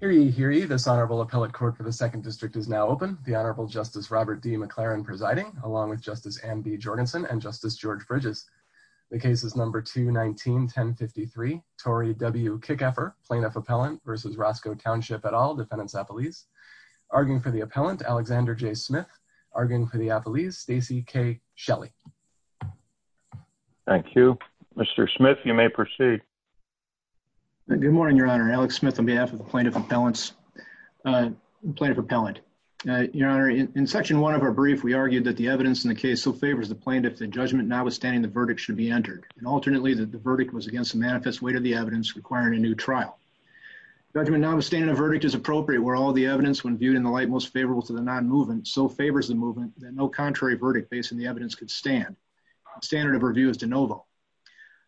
Hear ye, hear ye. This Honorable Appellate Court for the 2nd District is now open. The Honorable Justice Robert D. McLaren presiding, along with Justice Anne B. Jorgensen and Justice George Bridges. The case is number 2-19-10-53. Tory W. Kieckhaefer, Plaintiff Appellant v. Roscoe Township et al., Defendants Appellees. Arguing for the Appellant, Alexander J. Smith. Arguing for the Appellees, Stacy K. Shelley. Thank you. Mr. Smith, you may proceed. Good morning, Your Honor. Alex Smith on behalf of the Plaintiff Appellant. Your Honor, in Section 1 of our brief, we argued that the evidence in the case so favors the Plaintiff that judgment notwithstanding the verdict should be entered. Alternately, the verdict was against the manifest weight of the evidence requiring a new trial. Judgment notwithstanding a verdict is appropriate where all the evidence, when viewed in the light most favorable to the non-movement, so favors the movement that no contrary verdict based on the evidence could stand. The standard of review is de novo.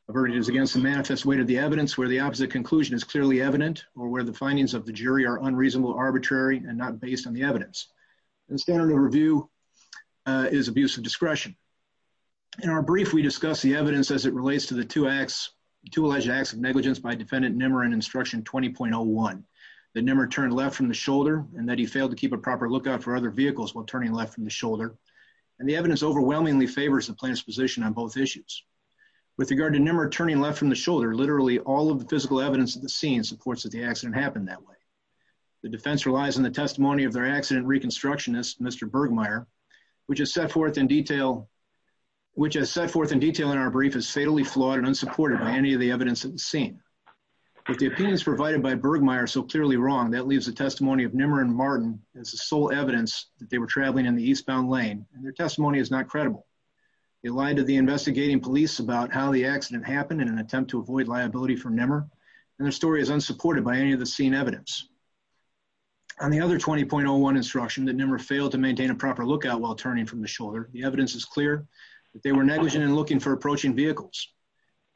A verdict is against the manifest weight of the evidence where the opposite conclusion is clearly evident or where the findings of the jury are unreasonable, arbitrary, and not based on the evidence. The standard of review is abuse of discretion. In our brief, we discuss the evidence as it relates to the two alleged acts of negligence by Defendant Nimmer in Instruction 20.01. That Nimmer turned left from the shoulder and that he failed to keep a proper lookout for other vehicles while turning left from the shoulder. And the evidence overwhelmingly favors the Plaintiff's position on both issues. With regard to Nimmer turning left from the shoulder, literally all of the physical evidence at the scene supports that the accident happened that way. The defense relies on the testimony of their accident reconstructionist, Mr. Bergmayer, which is set forth in detail in our brief as fatally flawed and unsupported by any of the evidence at the scene. With the opinions provided by Bergmayer so clearly wrong, that leaves the testimony of Nimmer and Martin as the sole evidence that they were traveling in the eastbound lane, and their testimony is not credible. They lied to the investigating police about how the accident happened in an attempt to avoid liability for Nimmer, and their story is unsupported by any of the scene evidence. On the other 20.01 instruction that Nimmer failed to maintain a proper lookout while turning from the shoulder, the evidence is clear that they were negligent in looking for approaching vehicles.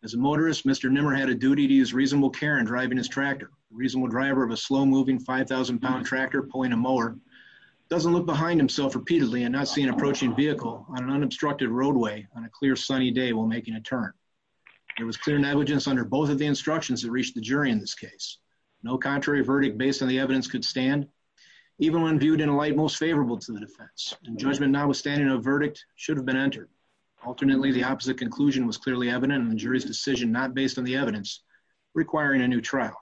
As a motorist, Mr. Nimmer had a duty to use reasonable care in driving his tractor. A reasonable driver of a slow-moving 5,000-pound tractor pulling a mower doesn't look behind himself repeatedly and not see an approaching vehicle on an unobstructed roadway on a clear sunny day while making a turn. There was clear negligence under both of the instructions that reached the jury in this case. No contrary verdict based on the evidence could stand, even when viewed in a light most favorable to the defense, and judgment notwithstanding a verdict should have been entered. Alternately, the opposite conclusion was clearly evident in the jury's decision not based on the evidence requiring a new trial.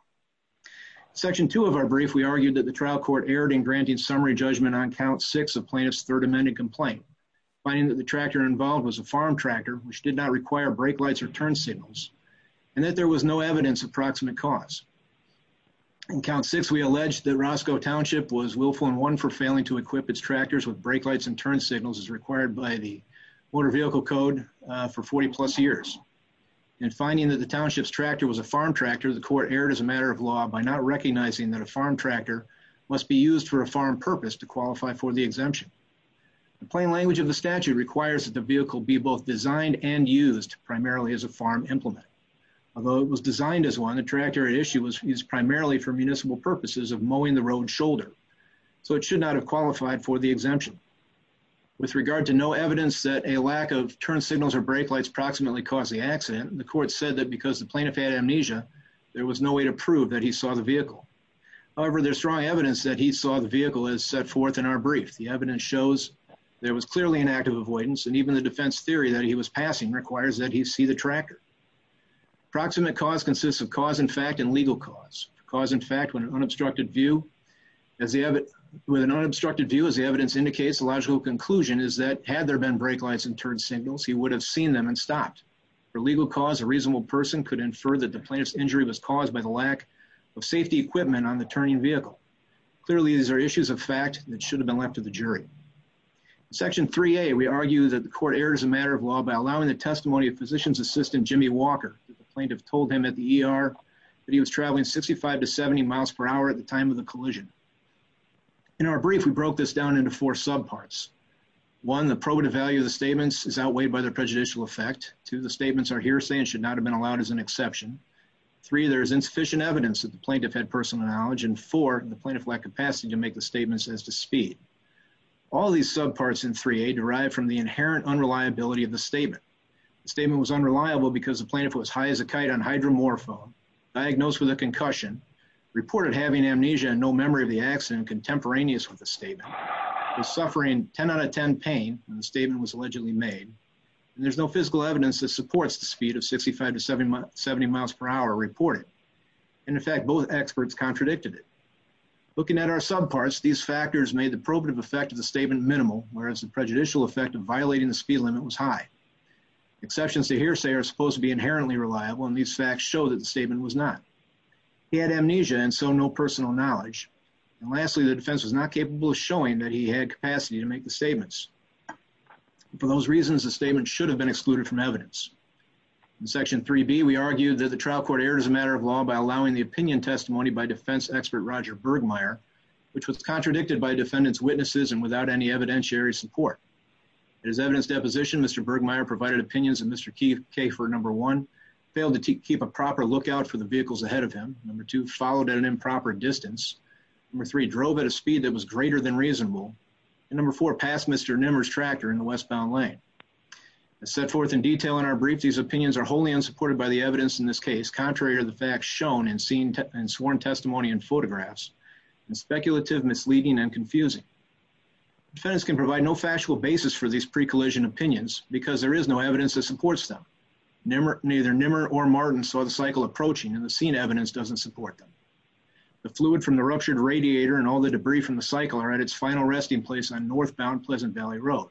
In section two of our brief, we argued that the trial court erred in granting summary judgment on count six of plaintiff's third amended complaint, finding that the tractor involved was a farm tractor, which did not require brake lights or turn signals, and that there was no evidence of proximate cause. In count six, we alleged that Roscoe Township was willful and one for failing to equip its tractors with brake lights and turn signals as required by the Motor Vehicle Code for 40-plus years. In finding that the township's tractor was a farm tractor, the court erred as a matter of law by not recognizing that a farm tractor must be used for a farm purpose to qualify for the exemption. The plain language of the statute requires that the vehicle be both designed and used primarily as a farm implement. Although it was designed as one, the tractor at issue was used primarily for municipal purposes of mowing the road's shoulder, so it should not have qualified for the exemption. With regard to no evidence that a lack of turn signals or brake lights proximately caused the accident, the court said that because the plaintiff had amnesia, there was no way to prove that he saw the vehicle. However, there's strong evidence that he saw the vehicle as set forth in our brief. The evidence shows there was clearly an act of avoidance, and even the defense theory that he was passing requires that he see the tractor. Proximate cause consists of cause in fact and legal cause. Cause in fact, with an unobstructed view, as the evidence indicates, the logical conclusion is that had there been brake lights and turn signals, he would have seen them and stopped. For legal cause, a reasonable person could infer that the plaintiff's injury was caused by the lack of safety equipment on the turning vehicle. Clearly, these are issues of fact that should have been left to the jury. In Section 3A, we argue that the court erred as a matter of law by allowing the testimony of physician's assistant, Jimmy Walker. The plaintiff told him at the ER that he was traveling 65 to 70 miles per hour at the time of the collision. In our brief, we broke this down into four subparts. One, the probative value of the statements is outweighed by their prejudicial effect. Two, the statements are hearsay and should not have been allowed as an exception. Three, there is insufficient evidence that the plaintiff had personal knowledge. And four, the plaintiff lacked capacity to make the statements as to speed. All these subparts in 3A derive from the inherent unreliability of the statement. The statement was unreliable because the plaintiff was high as a kite on hydromorphone, diagnosed with a concussion, reported having amnesia and no memory of the accident contemporaneous with the statement, was suffering 10 out of 10 pain when the statement was allegedly made, and there's no physical evidence that supports the speed of 65 to 70 miles per hour reported. And in fact, both experts contradicted it. Looking at our subparts, these factors made the probative effect of the statement minimal, whereas the prejudicial effect of violating the speed limit was high. Exceptions to hearsay are supposed to be inherently reliable, and these facts show that the statement was not. He had amnesia and so no personal knowledge. And lastly, the defense was not capable of showing that he had capacity to make the statements. For those reasons, the statement should have been excluded from evidence. In Section 3B, we argued that the trial court erred as a matter of law by allowing the opinion testimony by defense expert Roger Bergmaier, which was contradicted by defendant's witnesses and without any evidentiary support. In his evidence deposition, Mr. Bergmaier provided opinions that Mr. Kaefer, number one, failed to keep a proper lookout for the vehicles ahead of him, number two, followed at an improper distance, number three, drove at a speed that was greater than reasonable, and number four, passed Mr. Nimmer's tractor in the westbound lane. As set forth in detail in our brief, these opinions are wholly unsupported by the evidence in this case, contrary to the facts shown in sworn testimony and photographs, and speculative, misleading, and confusing. Defendants can provide no factual basis for these pre-collision opinions because there is no evidence that supports them. Neither Nimmer or Martin saw the cycle approaching, and the seen evidence doesn't support them. The fluid from the ruptured radiator and all the debris from the cycle are at its final resting place on northbound Pleasant Valley Road.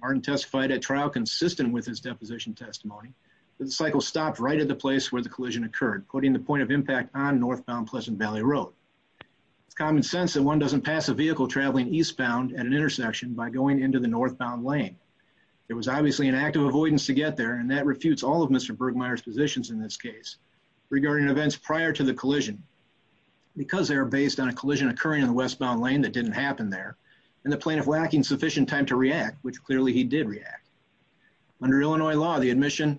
Martin testified at trial consistent with his deposition testimony that the cycle stopped right at the place where the collision occurred, quoting the point of impact on northbound Pleasant Valley Road. It's common sense that one doesn't pass a vehicle traveling eastbound at an intersection by going into the northbound lane. There was obviously an act of avoidance to get there, and that refutes all of Mr. Bergmaier's positions in this case. Regarding events prior to the collision, because they are based on a collision occurring in the westbound lane that didn't happen there, and the plaintiff lacking sufficient time to react, which clearly he did react. Under Illinois law, the admission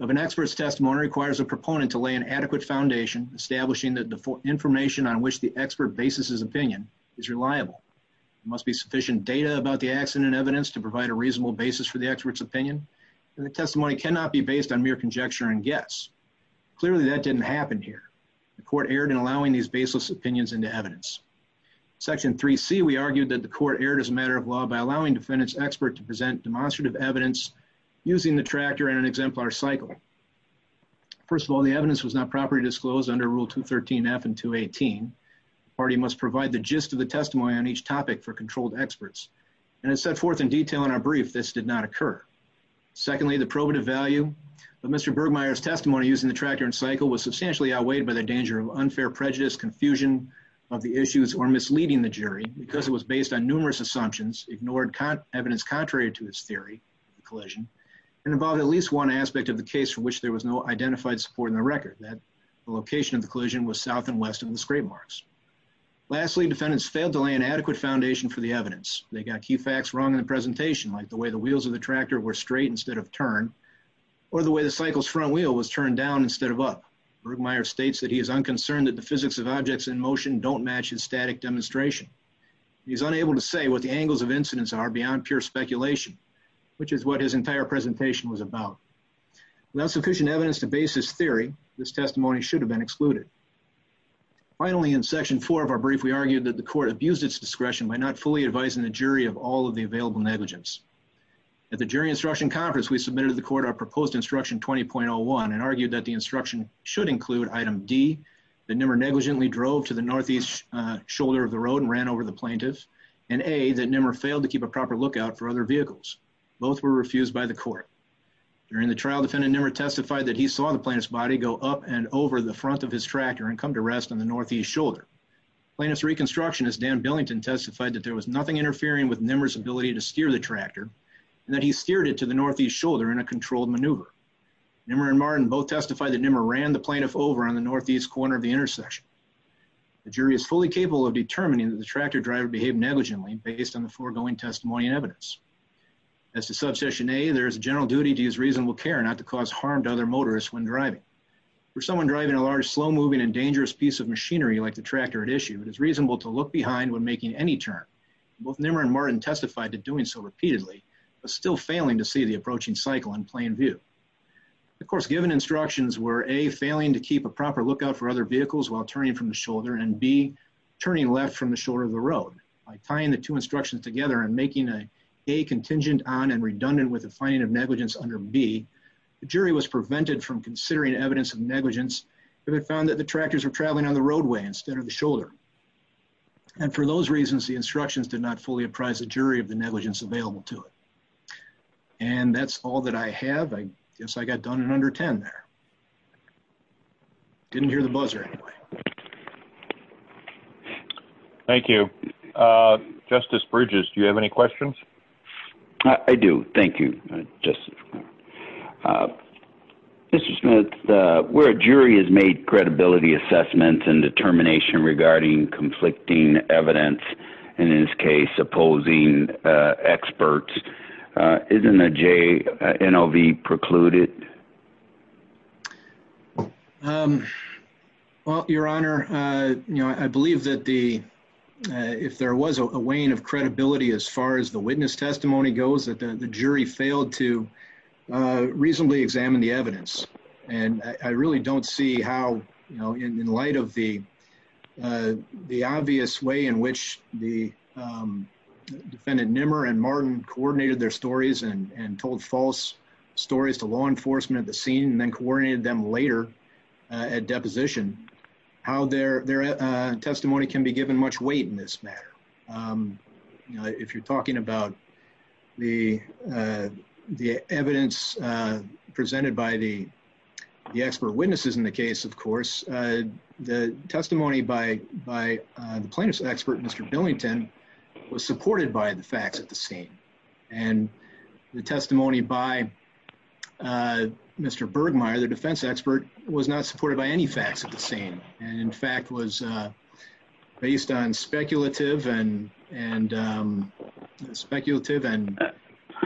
of an expert's testimony requires a proponent to lay an adequate foundation, establishing that the information on which the expert bases his opinion is reliable. There must be sufficient data about the accident evidence to provide a reasonable basis for the expert's opinion, and the testimony cannot be based on mere conjecture and guess. Clearly, that didn't happen here. The court erred in allowing these baseless opinions into evidence. In Section 3C, we argued that the court erred as a matter of law by allowing defendant's expert to present demonstrative evidence using the tractor and an exemplar cycle. First of all, the evidence was not properly disclosed under Rule 213F and 218. The party must provide the gist of the testimony on each topic for controlled experts. And as set forth in detail in our brief, this did not occur. Secondly, the probative value of Mr. Bergmaier's testimony using the tractor and cycle was substantially outweighed by the danger of unfair prejudice, confusion of the issues, or misleading the jury because it was based on numerous assumptions, ignored evidence contrary to its theory of the collision, and involved at least one aspect of the case for which there was no identified support in the record, that the location of the collision was south and west of the scrape marks. Lastly, defendants failed to lay an adequate foundation for the evidence. They got key facts wrong in the presentation, like the way the wheels of the tractor were straight instead of turned, or the way the cycle's front wheel was turned down instead of up. Bergmaier states that he is unconcerned that the physics of objects in motion don't match his static demonstration. He is unable to say what the angles of incidence are beyond pure speculation, which is what his entire presentation was about. Without sufficient evidence to base his theory, this testimony should have been excluded. Finally, in section four of our brief, we argued that the court abused its discretion by not fully advising the jury of all of the available negligence. At the jury instruction conference, we submitted to the court our proposed instruction 20.01 and argued that the instruction should include item D, that Nimmer negligently drove to the northeast shoulder of the road and ran over the plaintiff, and A, that Nimmer failed to keep a proper lookout for other vehicles. Both were refused by the court. During the trial, defendant Nimmer testified that he saw the plaintiff's body go up and over the front of his tractor and come to rest on the northeast shoulder. Plaintiff's reconstructionist Dan Billington testified that there was nothing interfering with Nimmer's ability to steer the tractor, and that he steered it to the northeast shoulder in a controlled maneuver. Nimmer and Martin both testified that Nimmer ran the plaintiff over on the northeast corner of the intersection. The jury is fully capable of determining that the tractor driver behaved negligently based on the foregoing testimony and evidence. As to subsection A, there is a general duty to use reasonable care not to cause harm to other motorists when driving. For someone driving a large, slow-moving, and dangerous piece of machinery like the tractor at issue, it is reasonable to look behind when making any turn. Both Nimmer and Martin testified to doing so repeatedly, but still failing to see the approaching cycle in plain view. Of course, given instructions were A, failing to keep a proper lookout for other vehicles while turning from the shoulder, and B, turning left from the shoulder of the road. By tying the two instructions together and making A contingent on and redundant with the finding of negligence under B, the jury was prevented from considering evidence of negligence if it found that the tractors were traveling on the roadway instead of the shoulder. And for those reasons, the instructions did not fully apprise the jury of the negligence available to it. And that's all that I have. I guess I got done in under ten there. Didn't hear the buzzer, anyway. Thank you. Justice Bridges, do you have any questions? I do. Thank you, Justice. Mr. Smith, where a jury has made credibility assessments and determination regarding conflicting evidence, in this case opposing experts, isn't a JNLV precluded? Well, Your Honor, I believe that if there was a weighing of credibility as far as the witness testimony goes, that the jury failed to reasonably examine the evidence. And I really don't see how, you know, in light of the obvious way in which the defendant Nimmer and Martin coordinated their stories and told false stories to law enforcement at the scene and then coordinated them later at deposition, how their testimony can be given much weight in this matter. If you're talking about the evidence presented by the expert witnesses in the case, of course, the testimony by the plaintiff's expert, Mr. Billington, was supported by the facts at the scene. And the testimony by Mr. Bergmayer, the defense expert, was not supported by any facts at the scene and, in fact, was based on speculative and speculative.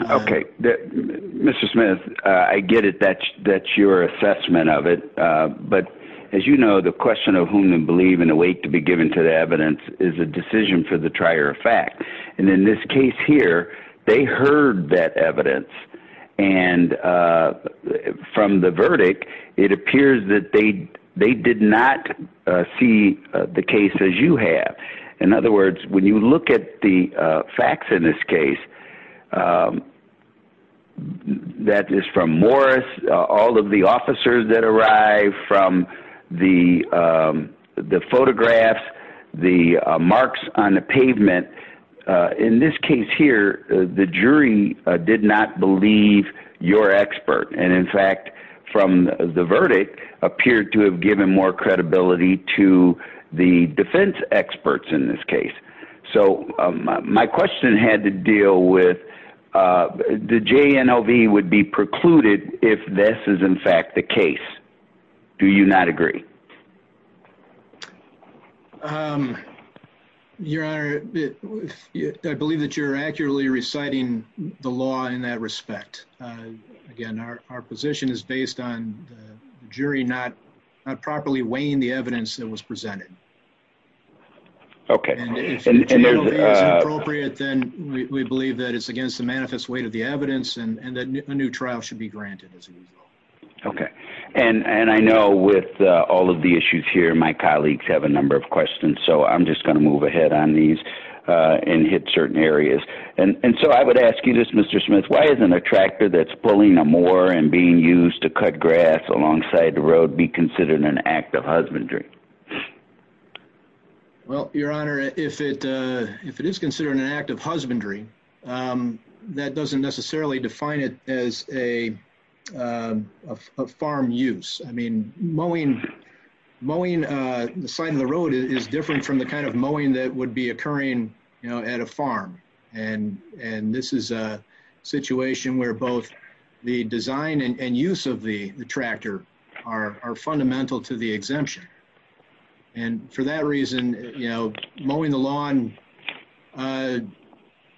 Okay. Mr. Smith, I get it. That's your assessment of it. But as you know, the question of whom to believe and the weight to be given to the evidence is a decision for the trier of fact. And in this case here, they heard that evidence. And from the verdict, it appears that they did not see the case as you have. In other words, when you look at the facts in this case, that is from Morris, all of the officers that arrived, from the photographs, the marks on the pavement. In this case here, the jury did not believe your expert. And, in fact, from the verdict, appeared to have given more credibility to the defense experts in this case. So my question had to deal with the JNLV would be precluded if this is, in fact, the case. Do you not agree? Your Honor, I believe that you're accurately reciting the law in that respect. Again, our position is based on the jury not properly weighing the evidence that was presented. Okay. And if the JNLV is appropriate, then we believe that it's against the manifest weight of the evidence and that a new trial should be granted. Okay. And I know with all of the issues here, my colleagues have a number of questions. So I'm just going to move ahead on these and hit certain areas. And so I would ask you this, Mr. Smith. Why isn't a tractor that's pulling a moor and being used to cut grass alongside the road be considered an act of husbandry? Well, Your Honor, if it is considered an act of husbandry, that doesn't necessarily define it as a farm use. I mean, mowing the side of the road is different from the kind of mowing that would be occurring at a farm. And this is a situation where both the design and use of the tractor are fundamental to the exemption. And for that reason, you know, mowing the lawn,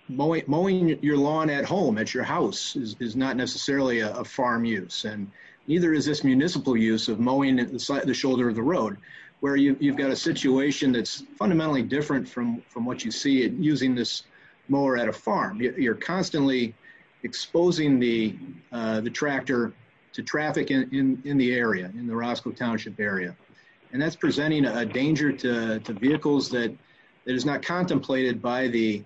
mowing your lawn at home, at your house, is not necessarily a farm use. And neither is this municipal use of mowing the shoulder of the road, where you've got a situation that's fundamentally different from what you see using this mower at a farm. You're constantly exposing the tractor to traffic in the area, in the Roscoe Township area. And that's presenting a danger to vehicles that is not contemplated by the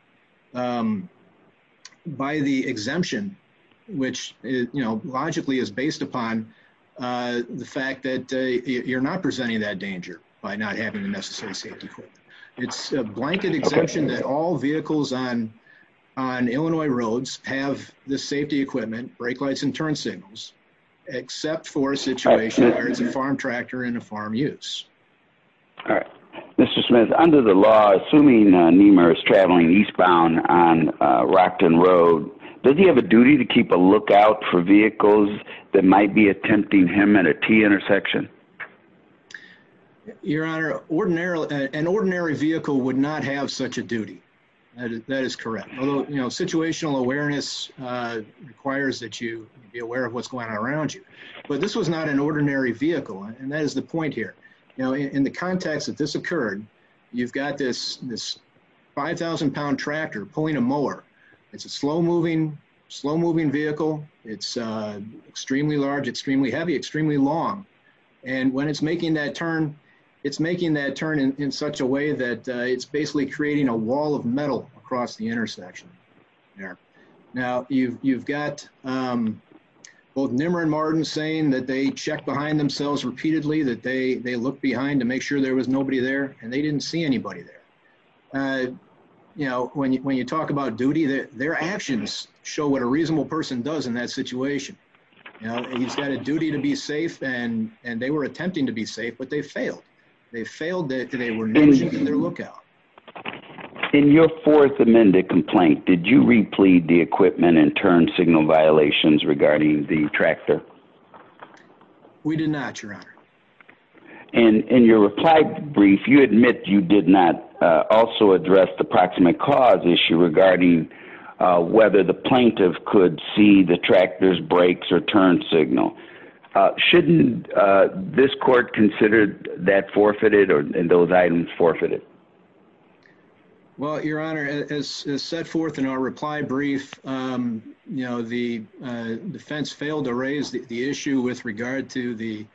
exemption, which, you know, logically is based upon the fact that you're not presenting that danger by not having the necessary safety equipment. It's a blanket exemption that all vehicles on Illinois roads have the safety equipment, brake lights and turn signals, except for a situation where it's a farm tractor and a farm use. All right. Mr. Smith, under the law, assuming NEMA is traveling eastbound on Rockton Road, does he have a duty to keep a lookout for vehicles that might be attempting him at a T-intersection? Your Honor, an ordinary vehicle would not have such a duty. That is correct. Although, you know, situational awareness requires that you be aware of what's going on around you. But this was not an ordinary vehicle. And that is the point here. Now, in the context that this occurred, you've got this 5,000-pound tractor pulling a mower. It's a slow-moving vehicle. It's extremely large, extremely heavy, extremely long. And when it's making that turn, it's making that turn in such a way that it's basically creating a wall of metal across the intersection there. Now, you've got both NEMA and Martin saying that they checked behind themselves repeatedly, that they looked behind to make sure there was nobody there, and they didn't see anybody there. You know, when you talk about duty, their actions show what a reasonable person does in that situation. You know, he's got a duty to be safe, and they were attempting to be safe, but they failed. They failed because they were not keeping their lookout. In your Fourth Amendment complaint, did you replete the equipment and turn signal violations regarding the tractor? We did not, Your Honor. In your reply brief, you admit you did not also address the proximate cause issue regarding whether the plaintiff could see the tractor's brakes or turn signal. Shouldn't this court consider that forfeited and those items forfeited? Well, Your Honor, as set forth in our reply brief, you know, the defense failed to raise the issue with regard to the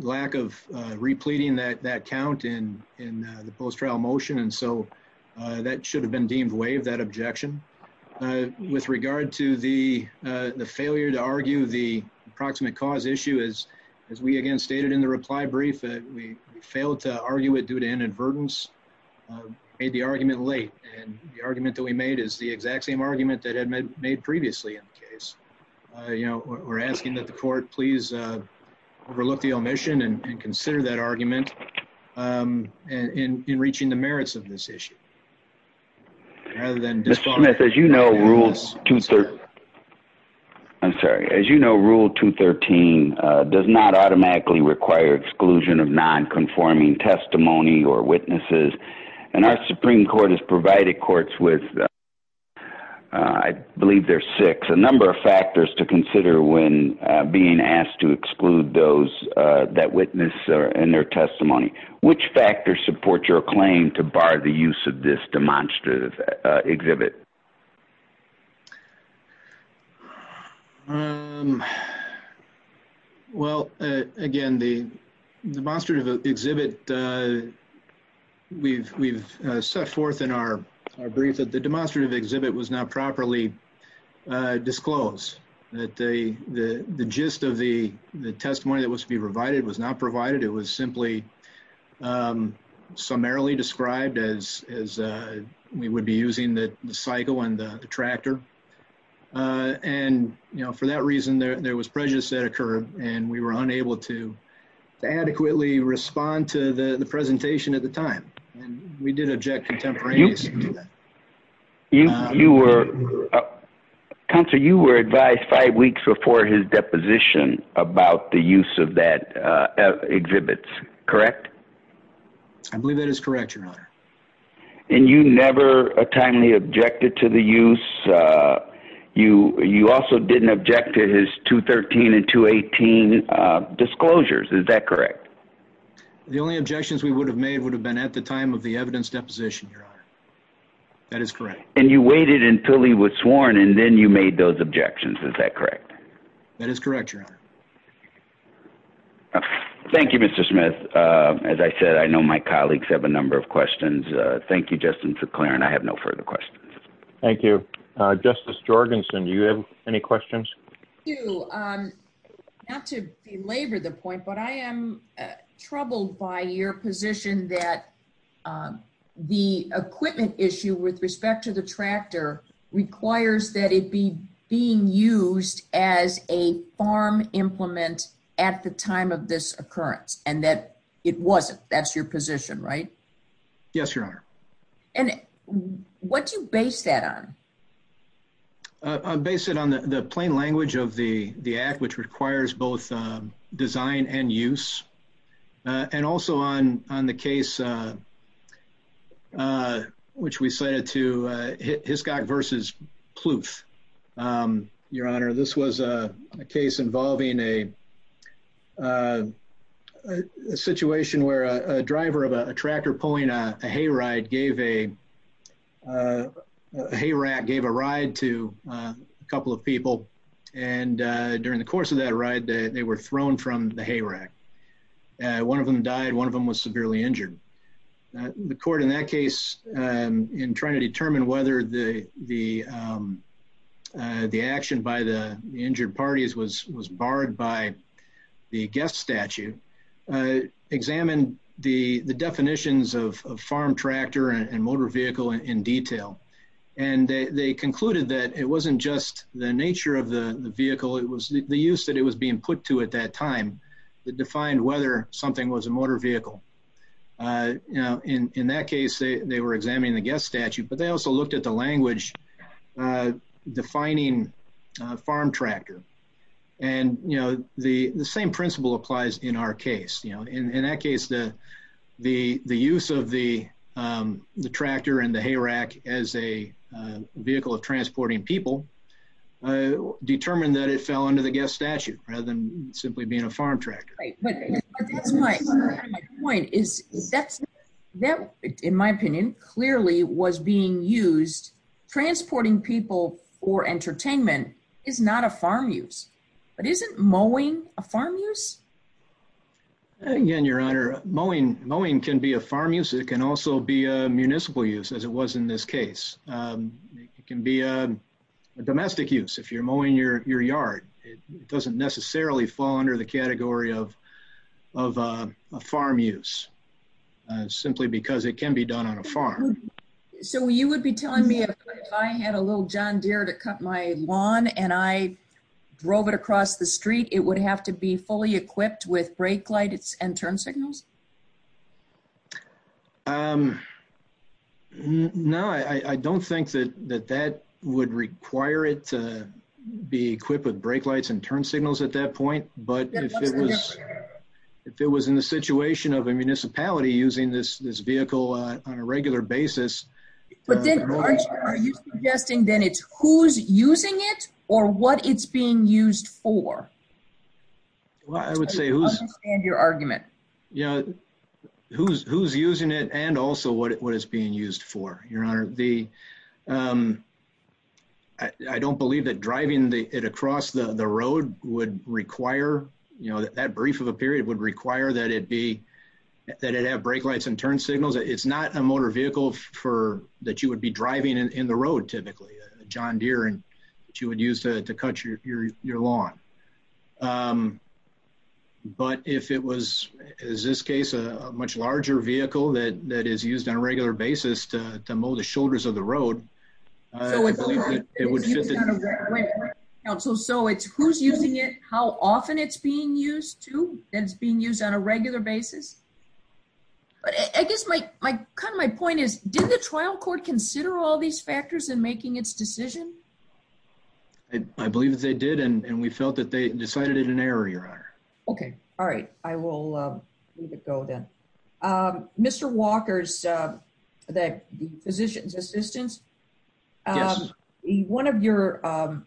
lack of repleting that count in the post-trial motion, and so that should have been deemed waived, that objection. With regard to the failure to argue the proximate cause issue, as we again stated in the reply brief, we failed to argue it due to inadvertence, made the argument late, and the argument that we made is the exact same argument that had been made previously in the case. You know, we're asking that the court please overlook the omission and consider that argument in reaching the merits of this issue. Mr. Smith, as you know, Rule 213 does not automatically require exclusion of nonconforming testimony or witnesses, and our Supreme Court has provided courts with, I believe there's six, a number of factors to consider when being asked to exclude those that witness in their testimony. Which factors support your claim to bar the use of this demonstrative exhibit? Well, again, the demonstrative exhibit, we've set forth in our brief that the demonstrative exhibit was not properly disclosed, that the gist of the testimony that was to be provided was not provided. It was simply summarily described as we would be using the cycle and the tractor, and for that reason, there was prejudice that occurred, and we were unable to adequately respond to the presentation at the time, and we did object contemporaneously to that. Counsel, you were advised five weeks before his deposition about the use of that exhibit, correct? I believe that is correct, Your Honor. And you never timely objected to the use? You also didn't object to his 213 and 218 disclosures, is that correct? The only objections we would have made would have been at the time of the evidence deposition, Your Honor. That is correct. And you waited until he was sworn, and then you made those objections, is that correct? That is correct, Your Honor. Thank you, Mr. Smith. As I said, I know my colleagues have a number of questions. Thank you, Justin, for clearing. I have no further questions. Thank you. Justice Jorgenson, do you have any questions? Thank you. Not to belabor the point, but I am troubled by your position that the equipment issue with respect to the tractor requires that it be being used as a farm implement at the time of this occurrence, and that it wasn't. That's your position, right? Yes, Your Honor. And what do you base that on? I base it on the plain language of the Act, which requires both design and use, and also on the case which we cited to Hiscock v. Pluth. Your Honor, this was a case involving a situation where a driver of a tractor pulling a hay rack gave a ride to a couple of people, and during the course of that ride, they were thrown from the hay rack. One of them died. One of them was severely injured. The court in that case, in trying to determine whether the action by the injured parties was barred by the guest statute, examined the definitions of farm tractor and motor vehicle in detail. And they concluded that it wasn't just the nature of the vehicle, it was the use that it was being put to at that time that defined whether something was a motor vehicle. In that case, they were examining the guest statute, but they also looked at the language defining farm tractor. And the same principle applies in our case. In that case, the use of the tractor and the hay rack as a vehicle of transporting people determined that it fell under the guest statute rather than simply being a farm tractor. My point is that, in my opinion, clearly was being used transporting people for entertainment is not a farm use. But isn't mowing a farm use? Again, Your Honor, mowing can be a farm use. It can also be a municipal use, as it was in this case. It can be a domestic use. If you're mowing your yard, it doesn't necessarily fall under the category of a farm use, simply because it can be done on a farm. So you would be telling me if I had a little John Deere to cut my lawn and I drove it across the street, it would have to be fully equipped with brake lights and turn signals? No, I don't think that that would require it to be equipped with brake lights and turn signals at that point. But if it was in the situation of a municipality using this vehicle on a regular basis... But then aren't you suggesting then it's who's using it or what it's being used for? I would say who's... I don't understand your argument. Who's using it and also what it's being used for, Your Honor. I don't believe that driving it across the road would require... That brief of a period would require that it have brake lights and turn signals. It's not a motor vehicle that you would be driving in the road, typically. A John Deere that you would use to cut your lawn. But if it was, in this case, a much larger vehicle that is used on a regular basis to mow the shoulders of the road... So it's who's using it, how often it's being used, too? It's being used on a regular basis? But I guess my point is, did the trial court consider all these factors in making its decision? I believe that they did. And we felt that they decided it in error, Your Honor. Okay. All right. I will let it go then. Mr. Walker, the physician's assistant... Yes. One of your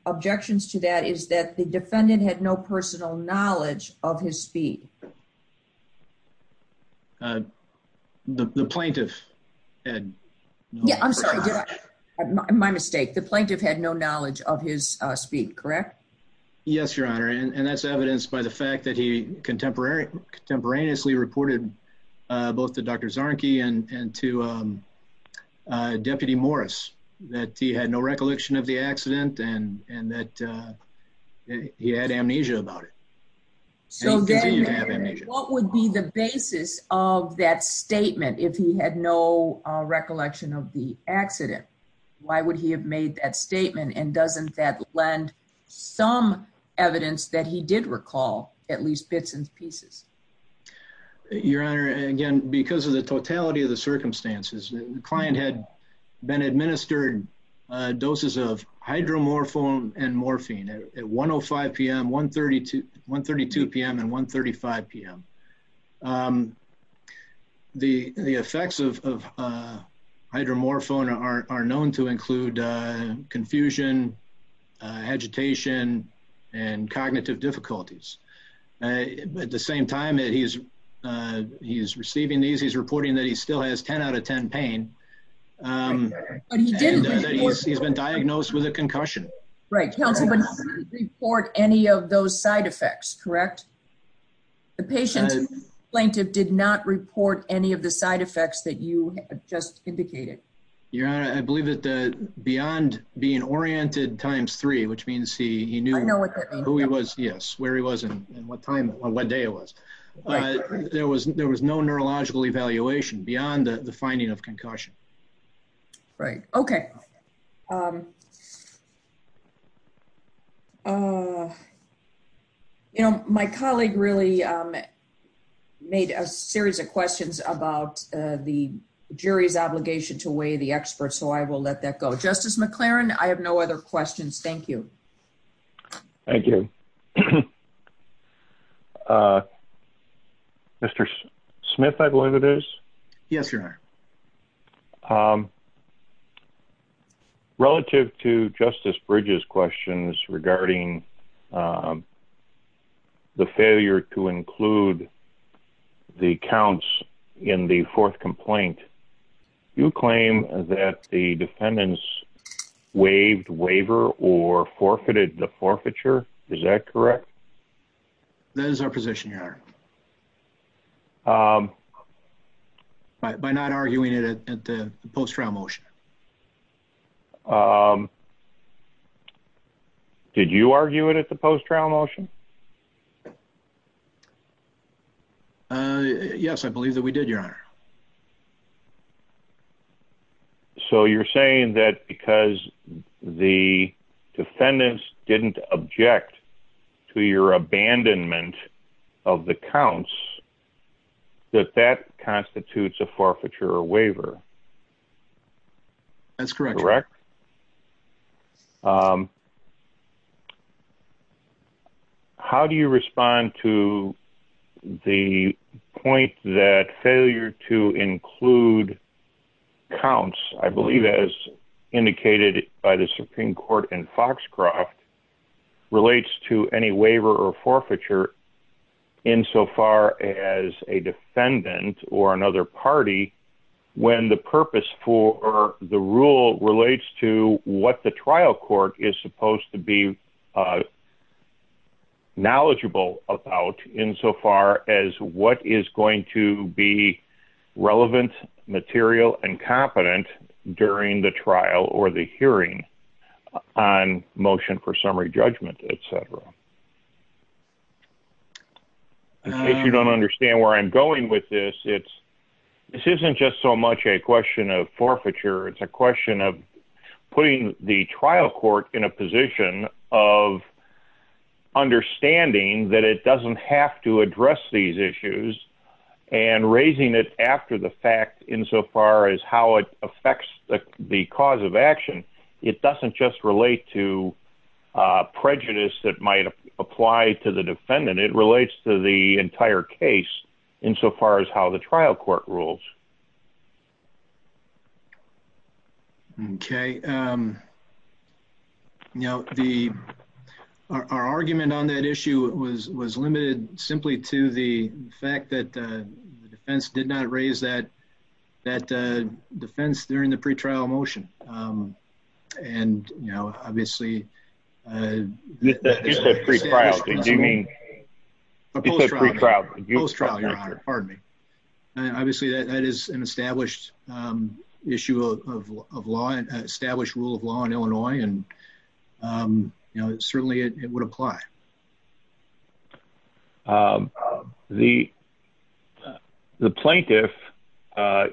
objections to that is that the defendant had no personal knowledge of his speed. The plaintiff had no... I'm sorry. My mistake. The plaintiff had no knowledge of his speed, correct? Yes, Your Honor. And that's evidenced by the fact that he contemporaneously reported both to Dr. Zarnke and to Deputy Morris, that he had no recollection of the accident and that he had amnesia about it. So then what would be the basis of that statement, if he had no recollection of the accident? Why would he have made that statement? And doesn't that lend some evidence that he did recall at least bits and pieces? Your Honor, again, because of the totality of the circumstances, the client had been administered doses of hydromorphone and morphine at 1.05 p.m., 1.32 p.m., and 1.35 p.m. The effects of hydromorphone are known to include confusion, agitation, and cognitive difficulties. At the same time that he's receiving these, he's reporting that he still has 10 out of 10 pain and that he's been diagnosed with a concussion. Right. Counsel, but he didn't report any of those side effects, correct? The patient plaintiff did not report any of the side effects that you just indicated. Your Honor, I believe that beyond being oriented times three, which means he knew who he was, yes, where he was and what day it was. There was no neurological evaluation beyond the finding of concussion. Right. Okay. You know, my colleague really made a series of questions about the jury's obligation to weigh the experts, so I will let that go. Justice McLaren, I have no other questions. Thank you. Thank you. Mr. Smith, I believe it is. Yes, Your Honor. Relative to Justice Bridges' questions regarding the failure to include the counts in the fourth complaint, you claim that the defendants waived waiver or forfeited the forfeiture. Is that correct? By not arguing it at the post-trial motion. Did you argue it at the post-trial motion? Yes, I believe that we did, Your Honor. So you're saying that because the defendants didn't object to your abandonment of the counts, that that constitutes a forfeiture or waiver? That's correct. Correct? How do you respond to the point that failure to include counts, I believe as indicated by the Supreme Court in Foxcroft, relates to any waiver or forfeiture insofar as a defendant or another party, when the purpose for the rule relates to what the trial court is supposed to be knowledgeable about insofar as what is going to be relevant, material, and competent during the trial or the hearing on motion for summary judgment, et cetera? If you don't understand where I'm going with this, this isn't just so much a question of forfeiture, it's a question of putting the trial court in a position of understanding that it doesn't have to address these issues, and raising it after the fact insofar as how it affects the cause of action. It doesn't just relate to prejudice that might apply to the defendant, it relates to the entire case insofar as how the trial court rules. Okay. Now, our argument on that issue was limited simply to the fact that the defense did not raise that defense during the pre-trial motion. And, you know, obviously... You said pre-trial, do you mean... Post-trial, Your Honor. Post-trial, Your Honor. Pardon me. Obviously, that is an established issue of law, an established rule of law in Illinois, and certainly it would apply. The plaintiff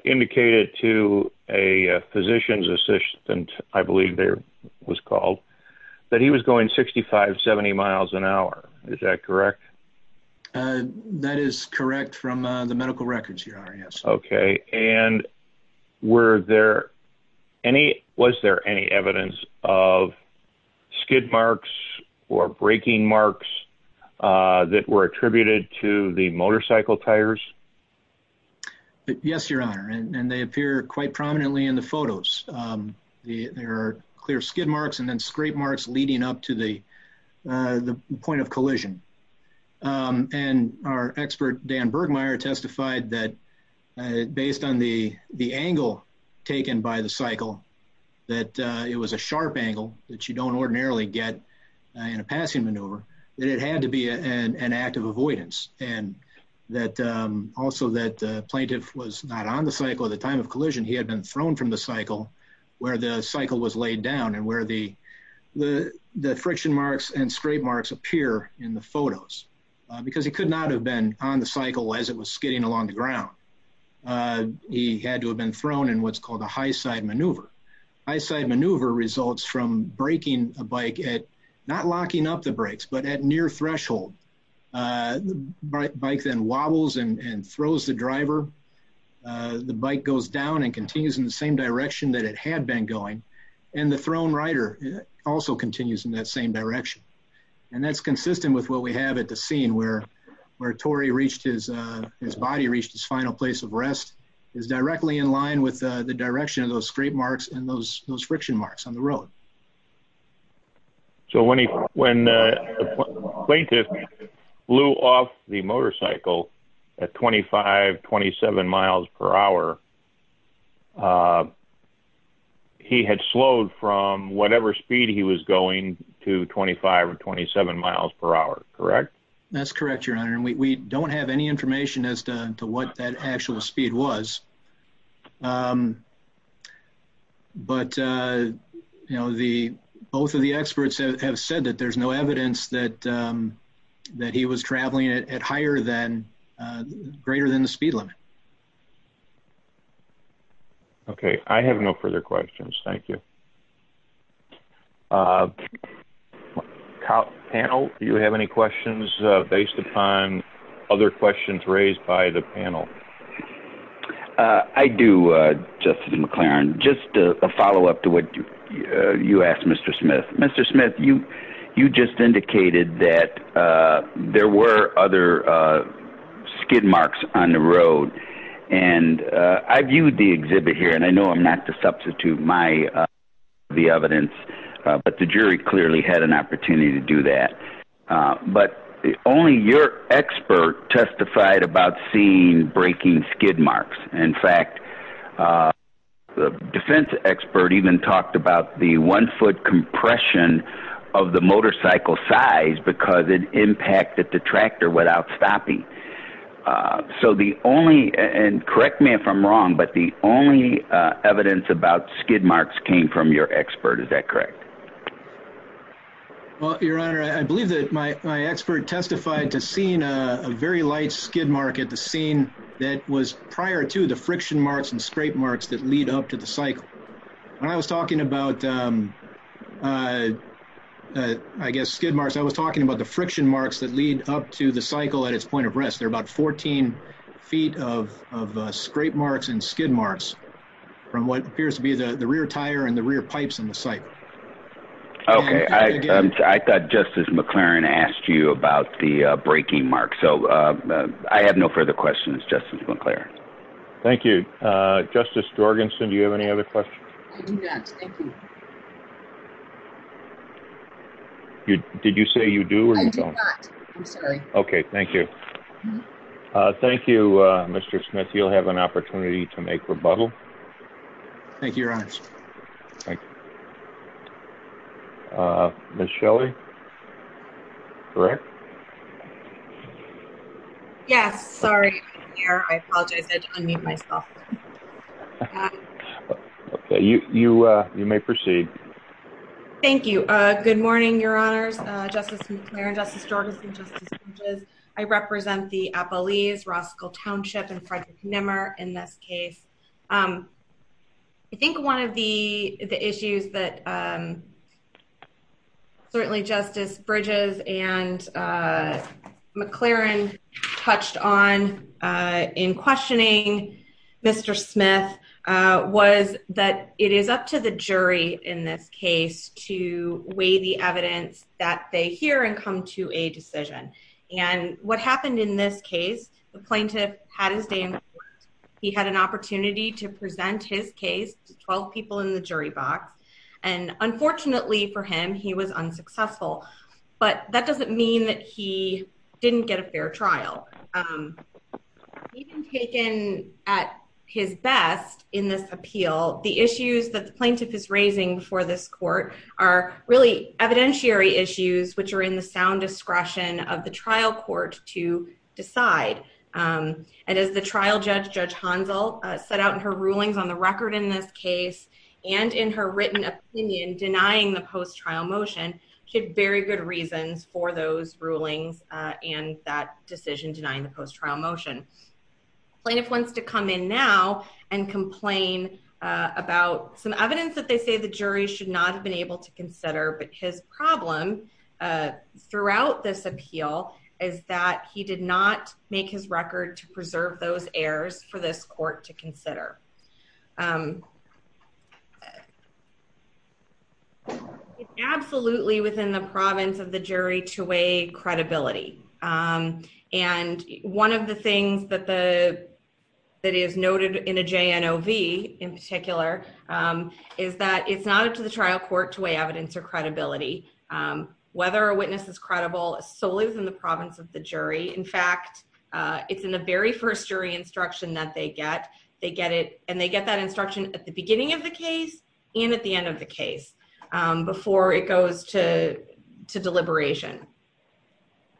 indicated to a physician's assistant, I believe their name was called, that he was going 65, 70 miles an hour. Is that correct? That is correct from the medical records, Your Honor, yes. Okay. And were there any... Was there any evidence of skid marks or braking marks that were attributed to the motorcycle tires? Yes, Your Honor, and they appear quite prominently in the photos. There are clear skid marks and then scrape marks leading up to the point of collision. And our expert, Dan Bergmayer, testified that based on the angle taken by the cycle, that it was a sharp angle that you don't ordinarily get in a passing maneuver, that it had to be an act of avoidance. And that also that the plaintiff was not on the cycle at the time of collision, he had been thrown from the cycle where the cycle was laid down and where the friction marks and scrape marks appear in the photos. Because he could not have been on the cycle as it was skidding along the ground. He had to have been thrown in what's called a high side maneuver. High side maneuver results from braking a bike at, not locking up the brakes, but at near threshold. The bike then wobbles and throws the driver. The bike goes down and continues in the same direction that it had been going. And the thrown rider also continues in that same direction. And that's consistent with what we have at the scene where Torrey reached his, his body reached his final place of rest is directly in line with the direction of those scrape marks and those friction marks on the road. So when he, when the plaintiff blew off the motorcycle at 25, 27 miles per hour, he had slowed from whatever speed he was going to 25 or 27 miles per hour, correct? That's correct, your honor. And we don't have any information as to what that actual speed was. But, you know, the, both of the experts have said that there's no evidence that, that he was traveling at higher than, greater than the speed limit. Okay. I have no further questions. Thank you. Panel, do you have any questions based upon other questions raised by the panel? Uh, I do, uh, Justin McLaren, just a follow up to what you, uh, you asked Mr. Smith, Mr. Smith, you, you just indicated that, uh, there were other, uh, skid marks on the road. And, uh, I viewed the exhibit here and I know I'm not to substitute my, uh, the evidence, but the jury clearly had an opportunity to do that. Uh, but only your expert testified about seeing breaking skid marks. In fact, uh, the defense expert even talked about the one foot compression of the motorcycle size because it impacted the tractor without stopping. Uh, so the only, and correct me if I'm wrong, but the only, uh, evidence about skid marks came from your expert. Is that correct? Well, your honor, I believe that my, my expert testified to seeing a very light skid mark at the scene that was prior to the friction marks and scrape marks that lead up to the cycle. When I was talking about, um, uh, uh, I guess skid marks, I was talking about the friction marks that lead up to the cycle at its point of rest. They're about 14 feet of, of, uh, scrape marks and skid marks from what appears to be the rear tire and the rear pipes in the site. Okay. I thought justice McLaren asked you about the, uh, breaking mark. So, uh, I have no further questions. Justice. Thank you, uh, justice Jorgensen. Do you have any other questions? Did you say you do? Okay. Thank you. Uh, thank you, uh, Mr. Smith. You'll have an opportunity to make rebuttal. Thank you. Your honor. Uh, Ms. Shelley, correct? Yes. Sorry. I apologize. I didn't mean myself. Okay. You, you, uh, you may proceed. Thank you. Uh, good morning, your honors, uh, justice McLaren, justice Jorgensen, justice Bridges. I represent the Appalese Roskill Township and Frederick Nimmer in this case. Um, I think one of the, the issues that, um, Certainly justice Bridges and, uh, McLaren touched on, uh, in questioning Mr. Smith, uh, was that it is up to the jury in this case to weigh the evidence that they hear and come to a decision. And what happened in this case, the plaintiff had his day. He had an opportunity to present his case to 12 people in the jury box. And unfortunately for him, he was unsuccessful, but that doesn't mean that he didn't get a fair trial. Um, even taken at his best in this appeal, the issues that the plaintiff is raising for this court are really evidentiary issues, which are in the sound discretion of the trial court to decide. Um, and as the trial judge, judge Hansel, uh, set out in her rulings on the record in this case and in her written opinion, denying the post trial motion, she had very good reasons for those rulings, uh, and that decision denying the post trial motion. Plaintiff wants to come in now and complain, uh, about some evidence that they say the jury should not have been able to consider, but his problem, uh, throughout this appeal is that he did not make his record to preserve those errors for this court to consider. Um, it's absolutely within the province of the jury to weigh credibility. Um, and one of the things that the, that is noted in a JNOV in particular, um, is that it's not up to the trial court to weigh evidence or credibility. Um, whether a witness is credible solely within the province of the jury. In fact, uh, it's in the very first jury instruction that they get, they get it and they get that instruction at the beginning of the case and at the end of the case, um, before it goes to, to deliberation.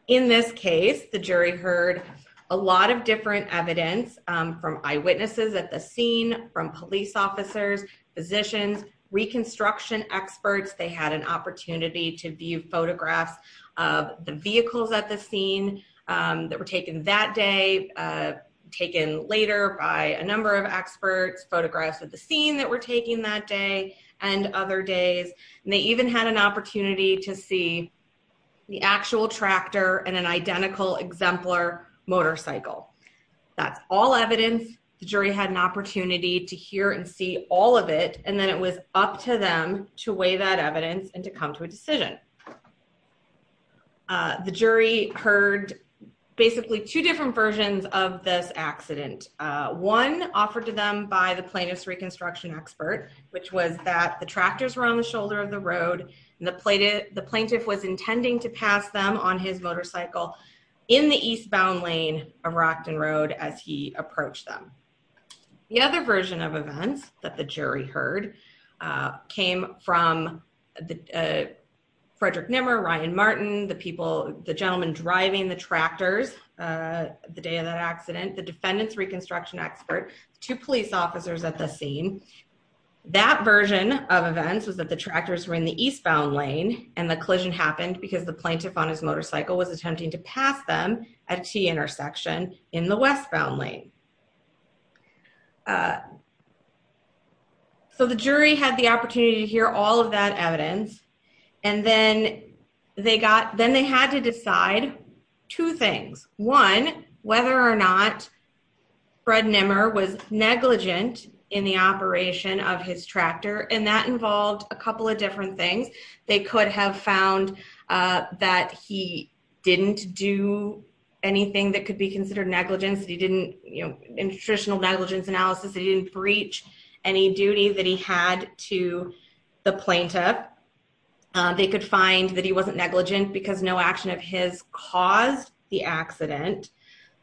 In this case, the jury heard a lot of different evidence, um, from eyewitnesses at the scene, from police officers, physicians, reconstruction experts. They had an opportunity to view photographs of the vehicles at the scene, um, that were taken that day, uh, taken later by a number of experts, photographs of the scene that we're taking that day and other days. And they even had an opportunity to see the actual tractor and an identical exemplar motorcycle. That's all evidence. The jury had an opportunity to hear and see all of it. And then it was up to them to weigh that evidence and to come to a decision. Uh, the jury heard basically two different versions of this accident. Uh, one offered to them by the plaintiff's reconstruction expert, which was that the tractors were on the shoulder of the road and the plaintiff, the plaintiff was intending to pass them on his motorcycle in the eastbound lane of Rockton Road as he approached them. The other version of events that the jury heard, uh, came from the, uh, Frederick Nimmer, Ryan Martin, the people, the gentleman driving the tractors, uh, the day of that accident, the defendant's reconstruction expert, two police officers at the scene. That version of events was that the tractors were in the eastbound lane and the collision happened because the plaintiff on his motorcycle was attempting to pass them at T intersection in the westbound lane. Uh, so the jury had the opportunity to hear all of that evidence and then they got, then they had to decide two things. One, whether or not Fred Nimmer was negligent in the operation of his tractor. And that involved a couple of different things. They could have found, uh, that he didn't do anything that could be considered negligence. He didn't, you know, in traditional negligence analysis, he didn't breach any duty that he had to the plaintiff. They could find that he wasn't negligent because no action of his caused the accident.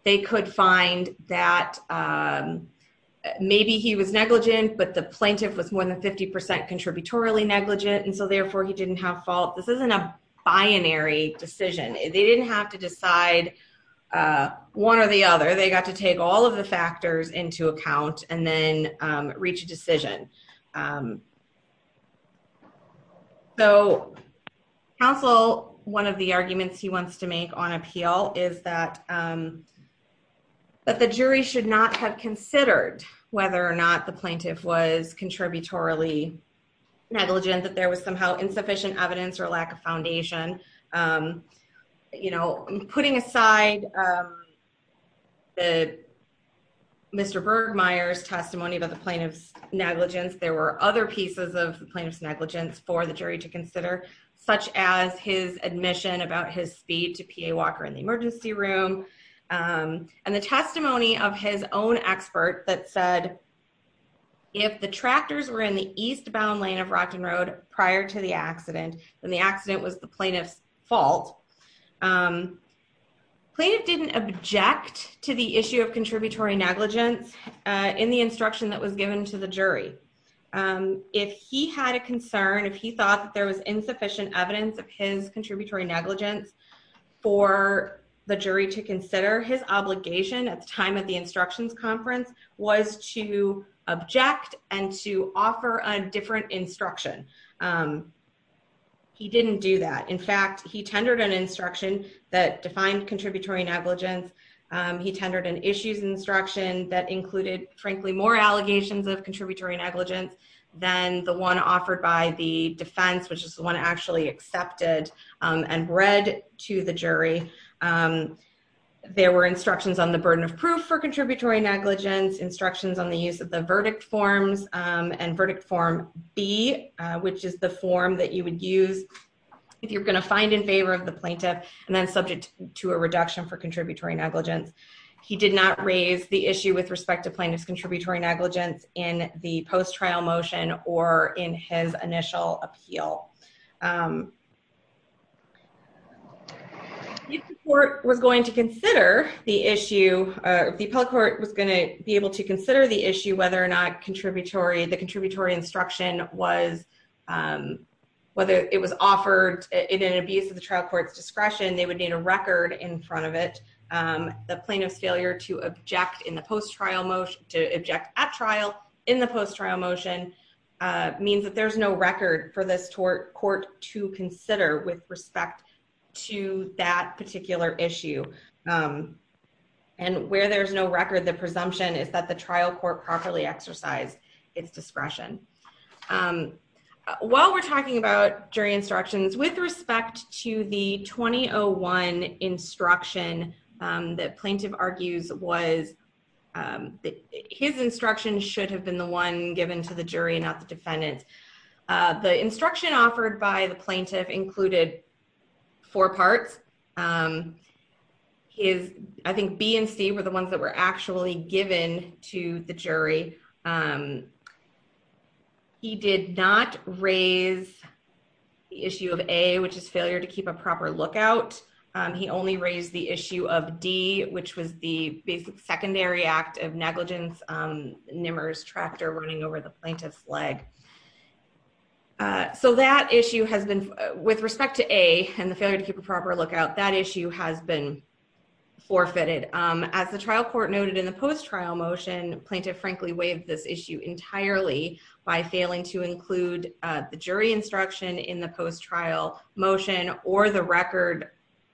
They could find that, um, maybe he was negligent, but the plaintiff was more than 50% contributorily negligent. And so therefore he didn't have fault. This isn't a binary decision. They didn't have to decide, uh, one or the other. They got to take all of the factors into account and then, um, reach a decision. So council, one of the arguments he wants to make on appeal is that, um, that the jury should not have considered whether or not the plaintiff was contributorily negligent, that there was somehow insufficient evidence or lack of foundation. Um, you know, putting aside, um, the Mr. Bergmeier's testimony about the plaintiff's negligence, there were other pieces of the plaintiff's negligence for the jury to consider, such as his admission about his speed to PA Walker in the emergency room. Um, and the testimony of his own expert that said if the tractors were in the eastbound lane of Rockton Road prior to the accident, then the accident was the plaintiff's fault. Um, plaintiff didn't object to the issue of contributory negligence, uh, in the instruction that was given to the jury. Um, if he had a concern, if he thought that there was insufficient evidence of his contributory negligence for the jury to consider, his obligation at the time of the instructions conference was to object and to offer a different instruction. Um, he didn't do that. In fact, he tendered an instruction that defined contributory negligence. Um, he tendered an issues instruction that included, frankly, more allegations of contributory negligence than the one offered by the defense, which is the one actually accepted, um, and read to the jury. Um, there were instructions on the burden of proof for contributory negligence, instructions on the use of the verdict forms, um, and verdict form B, uh, which is the form that you would use if you're going to find in favor of the plaintiff and then subject to a reduction for contributory negligence. He did not raise the issue with respect to plaintiff's contributory negligence in the post-trial motion or in his initial appeal. Um, if the court was going to consider the issue, uh, if the appellate court was going to be able to consider the issue, whether or not contributory, the contributory instruction was, um, whether it was offered in an abuse of the trial court's discretion, they would need a record in front of it. Um, the plaintiff's failure to object in the post-trial motion, to object at trial in the post-trial motion, uh, means that there's no record for this tort. Court to consider with respect to that particular issue. Um, and where there's no record, the presumption is that the trial court properly exercised its discretion. Um, while we're talking about jury instructions with respect to the 2001 instruction, um, that plaintiff argues was, um, his instruction should have been the one given to the jury, not the defendant. Uh, the instruction offered by the plaintiff included four parts. Um, his, I think B and C were the ones that were actually given to the jury. Um, he did not raise the issue of A, which is failure to keep a proper lookout. Um, he only raised the issue of D, which was the basic secondary act of negligence, um, Nimmer's tractor running over the plaintiff's leg. Uh, so that issue has been, uh, with respect to A and the failure to keep a proper lookout, that issue has been forfeited. Um, as the trial court noted in the post-trial motion, plaintiff frankly waived this issue entirely by failing to include, uh, the jury instruction in the post-trial motion or the record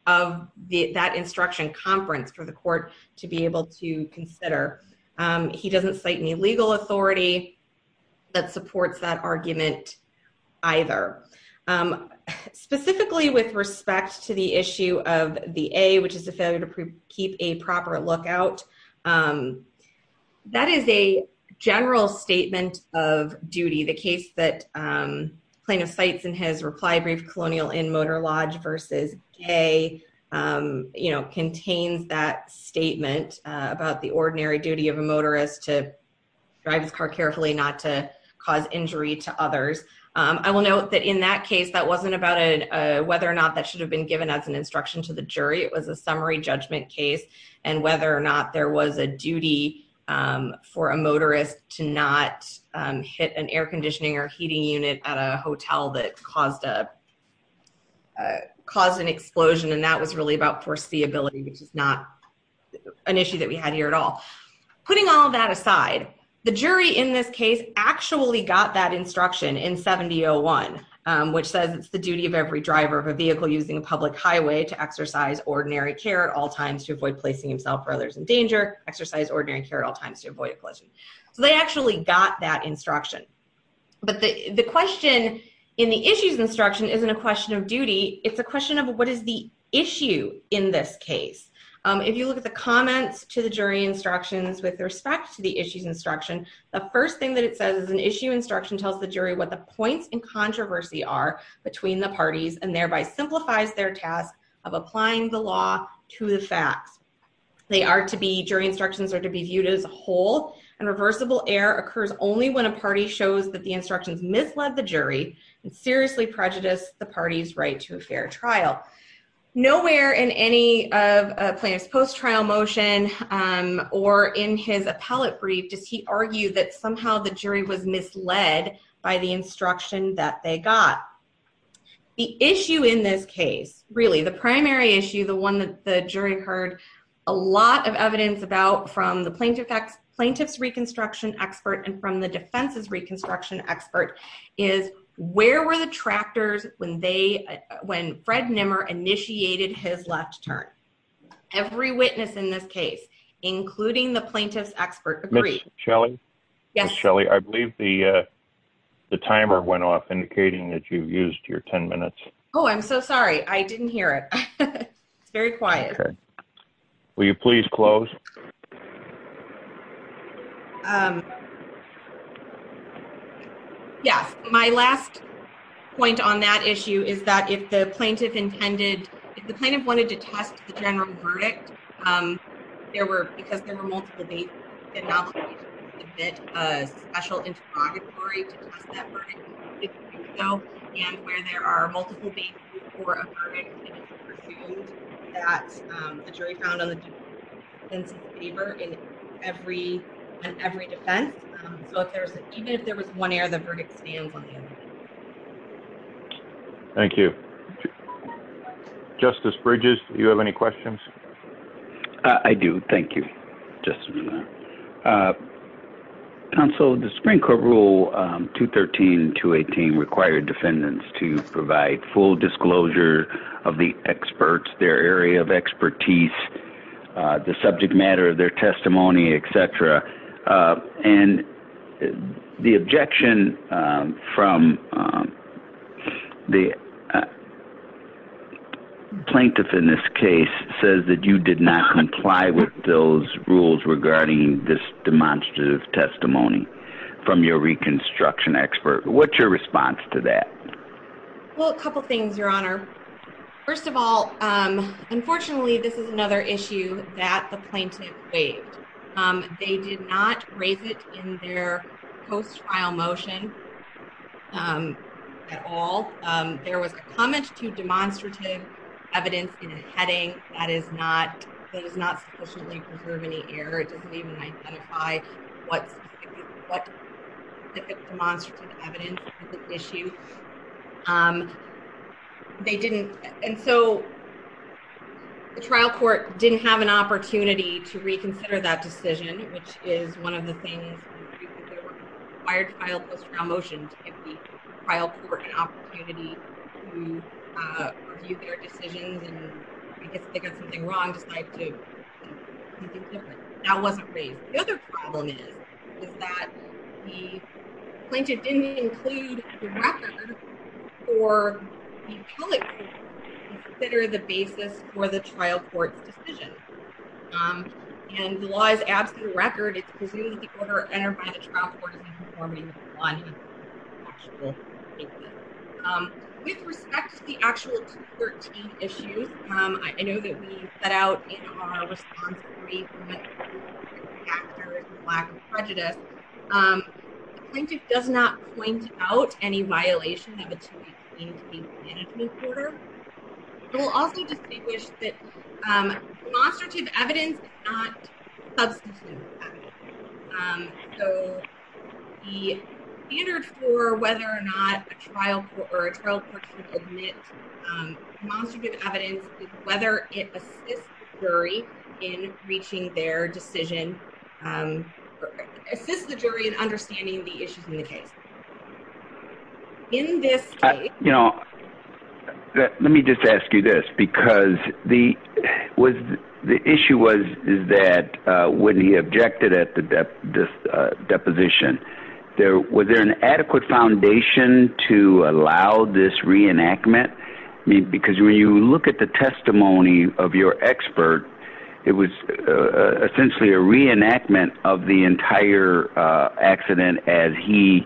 of the, that instruction conference for the court to be able to consider. Um, he doesn't cite any legal authority that supports that argument either. Um, specifically with respect to the issue of the A, which is the failure to keep a proper lookout, um, that is a general statement of duty. The case that, um, plaintiff cites in his reply brief colonial in Motor Lodge versus A, um, you know, contains that statement, uh, about the ordinary duty of a motorist to drive his car carefully not to cause injury to others. Um, I will note that in that case, that wasn't about a, uh, whether or not that should have been given as an instruction to the jury. It was a summary judgment case and whether or not there was a duty, um, for a motorist to not, um, hit an air conditioning or heating unit at a hotel that caused a, uh, caused an explosion. And that was really about foreseeability, which is not an issue that we had here at all. Putting all that aside, the jury in this case actually got that instruction in 70-01, um, which says it's the duty of every driver of a vehicle using a public highway to exercise ordinary care at all times to avoid placing himself or others in danger, exercise ordinary care at all times to avoid a collision. So they actually got that instruction. But the, the question in the issues instruction isn't a question of duty. It's a question of what is the issue in this case? Um, if you look at the comments to the jury instructions with respect to the issues instruction, the first thing that it says is an issue instruction tells the jury what the points in controversy are between the parties and thereby simplifies their task of applying the law to the facts. They are to be, jury instructions are to be viewed as a whole and reversible error occurs only when a party shows that the instructions misled the jury and seriously prejudice the party's right to a fair trial. Nowhere in any of Plano's post-trial motion, um, or in his appellate brief does he argue that somehow the jury was misled by the instruction that they got. The issue in this case, really the primary issue, the one that the jury heard a lot of evidence about from the plaintiff, plaintiff's reconstruction expert and from the defense's reconstruction expert is where were the tractors when they, when Fred Nimmer initiated his left turn. Every witness in this case, including the plaintiff's expert agree. Yes, Shelley. I believe the, uh, the timer went off indicating that you've used your 10 minutes. Oh, I'm so sorry. I didn't hear it. It's very quiet. Will you please close? Yes, my last point on that issue is that if the plaintiff intended, if the plaintiff wanted to test the general verdict, um, there were, because there were multiple dates. A special interrogatory to test that verdict. So, and where there are multiple dates for a verdict. That's a jury found on the paper in every, every defense. So if there's, even if there was one air, the verdict stands on the other. Thank you. Justice Bridges, do you have any questions? I do. Thank you. And so the Supreme court rule, um, two 13 to 18 required defendants to provide full disclosure of the experts, their area of expertise, uh, the subject matter of their testimony, et cetera. Uh, and the objection, um, from, um, the. Plaintiff in this case says that you did not comply with those rules regarding this demonstrative testimony from your reconstruction expert. What's your response to that? Well, a couple of things, your honor, first of all, um, unfortunately, this is another issue that the plaintiff waived. Um, they did not raise it in their post trial motion. Um, at all. Um, there was a comment to demonstrative evidence in a heading that is not, that is not sufficiently preserve any air. It doesn't even identify. What's demonstrative evidence issue. Um, they didn't. And so. The trial court didn't have an opportunity to reconsider that decision, which is one of the things. Fired file motion. I'll court an opportunity. Their decisions and I guess they got something wrong. That wasn't me. The other problem is. That the plaintiff didn't include. Or. Consider the basis for the trial court decision. And the law is absolute record. It's presumed the order. Um, with respect to the actual 13 issues. I know that we set out. Our response. Prejudice. Plaintiff does not point out any violation of. We'll also distinguish that. Search of evidence. Substance. So. The standard for whether or not a trial trial. Um, Whether it. In reaching their decision. Assists the jury in understanding the issues in the case. In this. Let me just ask you this, because the. Was the issue was, is that when he objected at the depth. Deposition. There was there an adequate foundation to allow this reenactment. Because when you look at the testimony of your expert. It was. Essentially a reenactment of the entire accident as he.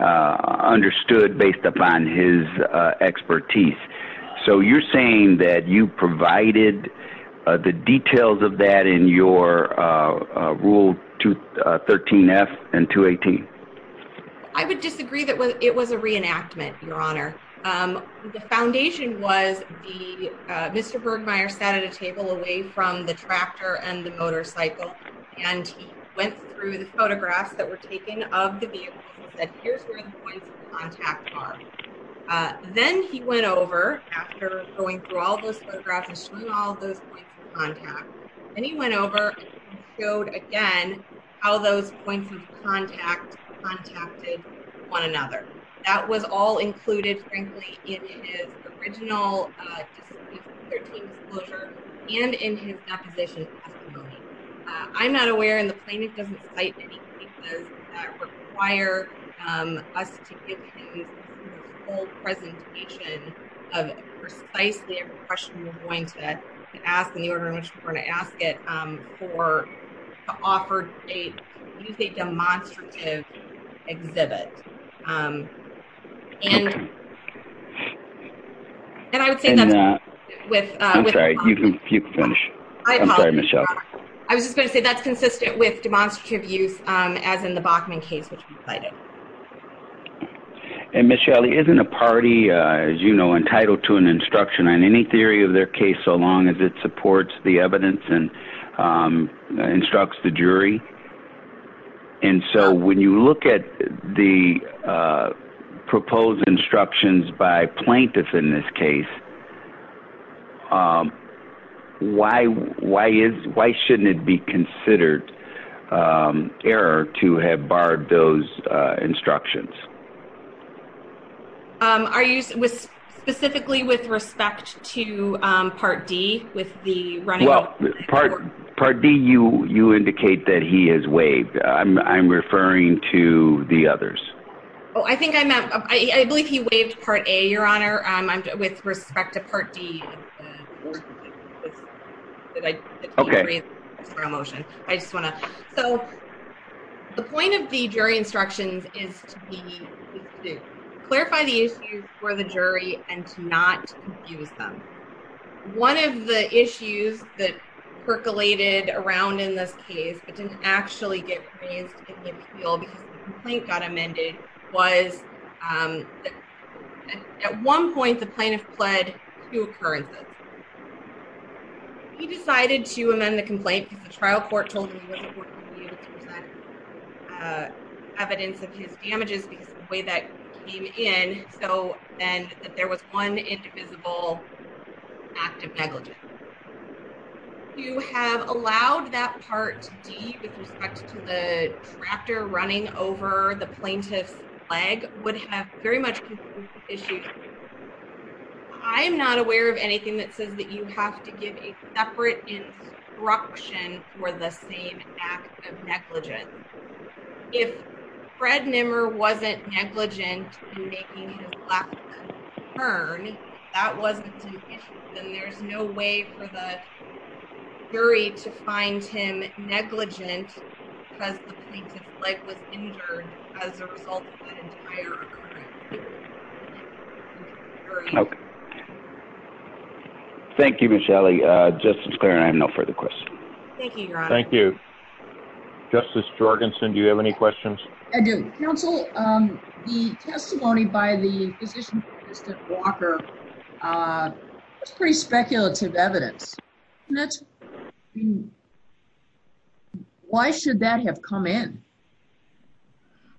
Understood based upon his expertise. So you're saying that you provided. The details of that in your rule. To 13 F and to 18. I would disagree that it was a reenactment. Your honor. The foundation was. Mr. Bergmeier sat at a table away from the tractor and the motorcycle. And he went through the photographs that were taken of the vehicle. That here's where the points of contact are. Then he went over after going through all those photographs. All those points of contact. And he went over. Again. All those points. Contact. One another. That was all included. In his original. Disclosure. And in his deposition. I'm not aware. And the plaintiff doesn't say. Fire. Us. Presentation. I'm not aware of. Precisely. We're going to. Ask. We're going to ask it. For. Offered. A. Demonstrative. Exhibit. And I would say that. With. I'm sorry. You can finish. I'm sorry, Michelle. I was just going to say that's consistent with demonstrative use. As in the Bachman case, which. And Michelle. Isn't a party. As you know, entitled to an instruction on any theory of their case. So long as it supports the evidence and. Instructs the jury. And so when you look at the. Proposed instructions by plaintiffs in this case. Why, why is, why shouldn't it be considered. Error to have barred those. Instructions. Are you specifically with respect to. Part D with the running. Part D you, you indicate that he has waived. I'm referring to the others. Oh, I think I met. I believe he waived part a your honor. I'm with respect to part D. Okay. Motion. I just want to. So. The point of the jury instructions is. Clarify the issue for the jury and to not use them. One of the issues that percolated around in this case, but didn't actually get. The complaint got amended. Was. At one point, the plaintiff pled. Two occurrences. He decided to amend the complaint because the trial court told me. Evidence of his damages because of the way that came in. So then there was one indivisible. Active negligence. You have allowed that part. With respect to the tractor running over the plaintiff's leg would have very much. I'm not aware of anything that says that you have to give a separate instruction for the same. Negligent. If Fred Nimmer, wasn't negligent. That wasn't. Then there's no way for the. Three to find him negligent. As a result. Okay. Thank you. Michelle. Just as clear. I have no further questions. Thank you. Thank you. Justice Jorgensen. Do you have any questions? I do counsel. The testimony by the physician. Walker. It's pretty speculative evidence. That's. Why should that have come in?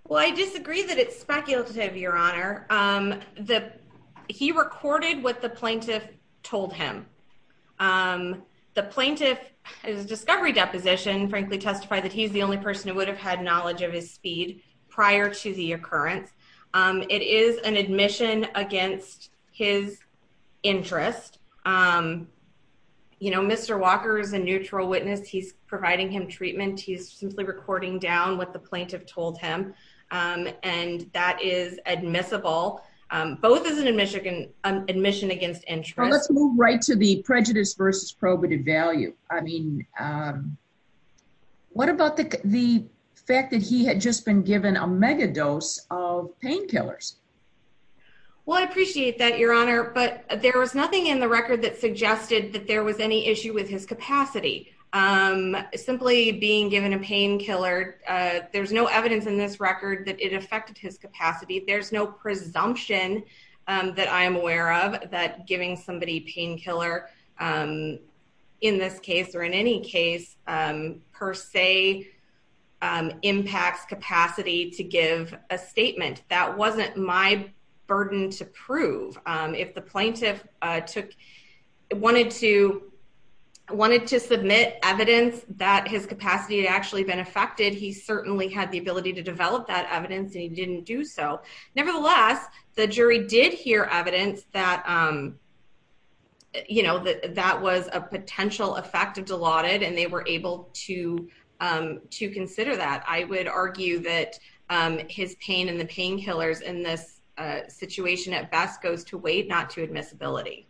Well, I disagree. I agree that it's speculative. Your honor. The. He recorded what the plaintiff told him. The plaintiff is discovery deposition, frankly, testify that he's the only person who would have had knowledge of his speed prior to the occurrence. It is an admission against his interest. You know, Mr. Walker is a neutral witness. He's providing him treatment. He's simply recording down what the plaintiff told him. And that is admissible. Both as an admission. Admission against interest. Right. To the prejudice versus probative value. I mean, What about the. The fact that he had just been given a mega dose of painkillers. Well, I appreciate that your honor, but there was nothing in the record that suggested that there was any issue with his capacity. Simply being given a painkiller. There's no evidence in this record that it affected his capacity. There's no presumption. That I am aware of that giving somebody painkiller. In this case or in any case per se. Impacts capacity to give a statement. That wasn't my burden to prove. If the plaintiff took. Wanted to. You know, submit evidence that his capacity had actually been affected. He certainly had the ability to develop that evidence and he didn't do so. Nevertheless, the jury did hear evidence that. You know, that, that was a potential effect of delauded and they were able to, to consider that. I would argue that his pain and the painkillers in this. Situation at best goes to wait, not to admissibility.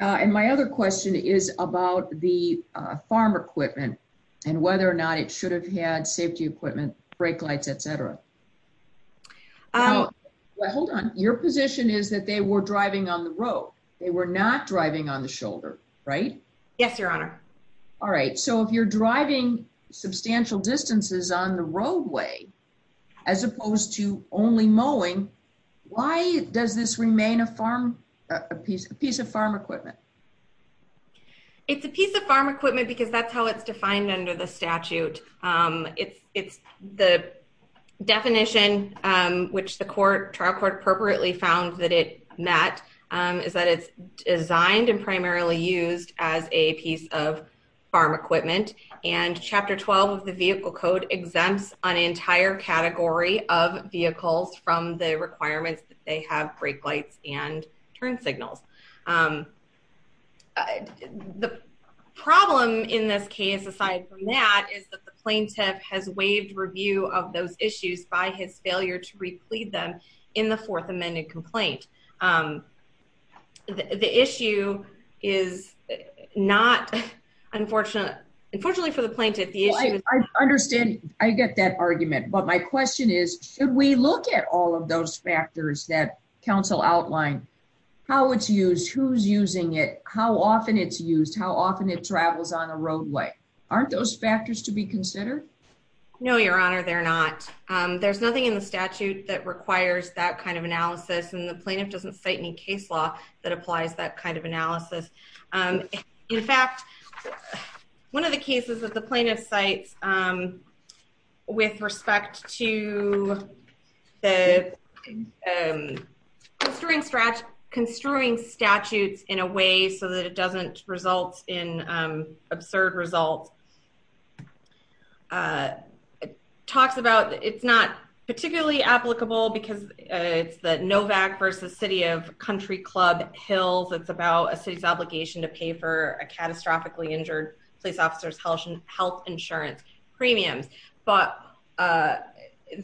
And my other question is about the farm equipment. And whether or not it should have had safety equipment, brake lights, et cetera. Hold on. Your position is that they were driving on the road. They were not driving on the shoulder, right? Yes, your honor. All right. So if you're driving substantial distances on the roadway. As opposed to only mowing. It's not a safety equipment. So it's not a safety equipment. In your opinion, why does this remain a farm? A piece of piece of farm equipment. It's a piece of farm equipment because that's how it's defined under the statute. It's it's the definition. Which the court trial court appropriately found that it met. It's a piece of piece of farm equipment. And the reason for that is that it's designed and primarily used as a piece of. Farm equipment. And chapter 12 of the vehicle code exempts an entire category of vehicles from the requirements that they have brake lights and turn signals. The problem in this case, aside from that, is that the plaintiff has waived review of those issues by his failure to replead them. In the fourth amendment complaint. The issue is not. Unfortunately. Unfortunately for the plaintiff. I understand. I get that argument, but my question is, should we look at all of those factors that council outlined? How would you address it? How often it's used, who's using it, how often it's used, how often it travels on a roadway. Aren't those factors to be considered. No, your honor. They're not. There's nothing in the statute that requires that kind of analysis. And the plaintiff doesn't say any case law that applies that kind of analysis. In fact, One of the cases that the plaintiff sites. With respect to. The. Construing stretch construing statutes in a way so that it doesn't result in absurd results. The next slide. Talks about it's not particularly applicable because. It's the Novak versus city of country club Hills. It's about a city's obligation to pay for a catastrophically injured police officers, health insurance premiums. And so the city of country club Hills.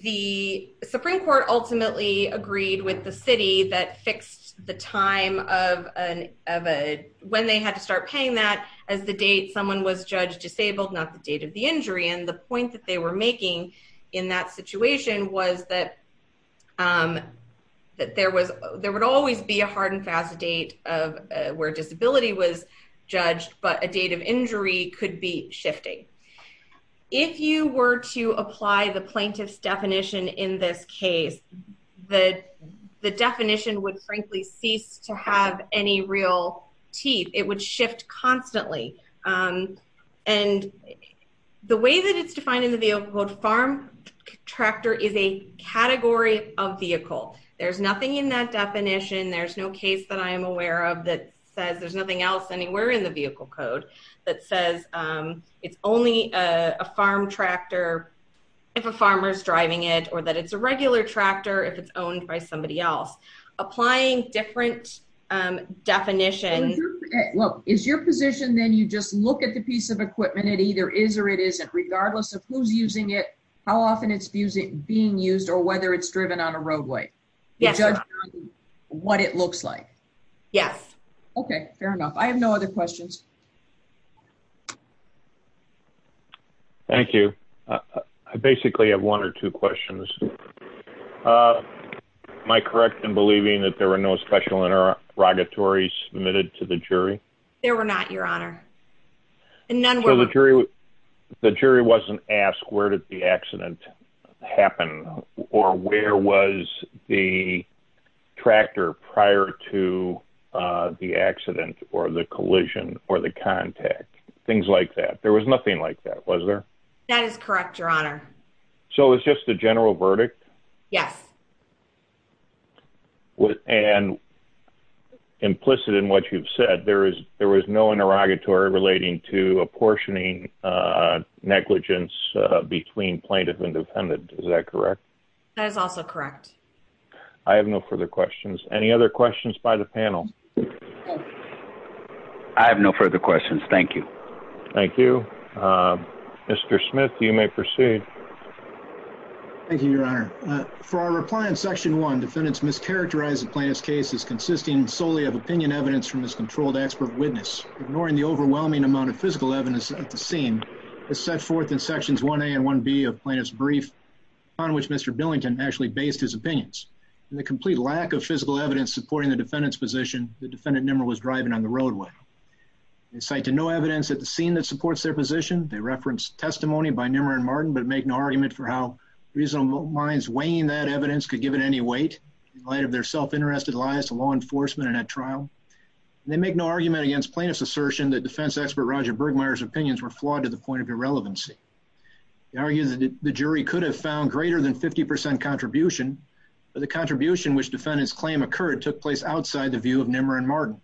The Supreme court. The Supreme court ultimately agreed with the city that fixed the time of an. When they had to start paying that as the date, someone was judged disabled, not the date of the injury. And the point that they were making in that situation was that. That there was, that there was a time of injury. And that there would always be a hard and fast date of where disability was. Judged, but a date of injury could be shifting. If you were to apply the plaintiff's definition in this case. The, the definition would frankly cease to have any real teeth. It would shift constantly. And the way that it's defined in the vehicle code farm. Tractor is a category of vehicle. There's nothing in that definition. There's no case that I am aware of that says there's nothing else anywhere in the vehicle code. That says it's only a farm tractor. If a farmer's driving it or that it's a regular tractor, if it's owned by somebody else. So I think it's just a matter of applying different definitions. Well, is your position. Then you just look at the piece of equipment. It either is or it isn't regardless of who's using it. How often it's being used or whether it's driven on a roadway. Yeah. What it looks like. Yes. Okay. Fair enough. I have no other questions. Thank you. I basically have one or two questions. My correct. And believing that there were no special inner. Rogatory submitted to the jury. There were not your honor. And none were the jury. The jury wasn't asked where did the accident. Happen or where was the. Tractor prior to the accident or the collision or the contact. Things like that. There was nothing like that. Was there. No. That is correct. Your honor. So it's just a general verdict. Yes. And. Implicit in what you've said, there is, there was no interrogatory relating to apportioning negligence between plaintiff and defendant. Is that correct? That is also correct. I have no further questions. Any other questions by the panel? I have no further questions. Thank you. Thank you. Mr. Smith, you may proceed. Thank you, your honor. For our reply in section one, defendants mischaracterize the plaintiff's case is consisting solely of opinion evidence from this controlled expert witness. Ignoring the overwhelming amount of physical evidence at the scene. Is set forth in sections one a and one B of plaintiff's brief. On which Mr. Billington actually based his opinions. The plaintiff's case. The plaintiff's case. And the complete lack of physical evidence, supporting the defendant's position. The defendant number was driving on the roadway. They cite to no evidence at the scene that supports their position. They referenced testimony by Nimmer and Martin, but make no argument for how reasonable minds weighing that evidence could give it any weight. Light of their self-interested lies to law enforcement and at trial. And they make no argument against plaintiff's assertion that defense expert, Roger Bergmayer's opinions were flawed to the point of irrelevancy. He argues that the jury could have found greater than 50% contribution. But the contribution, which defendants claim occurred took place outside the view of Nimmer and Martin.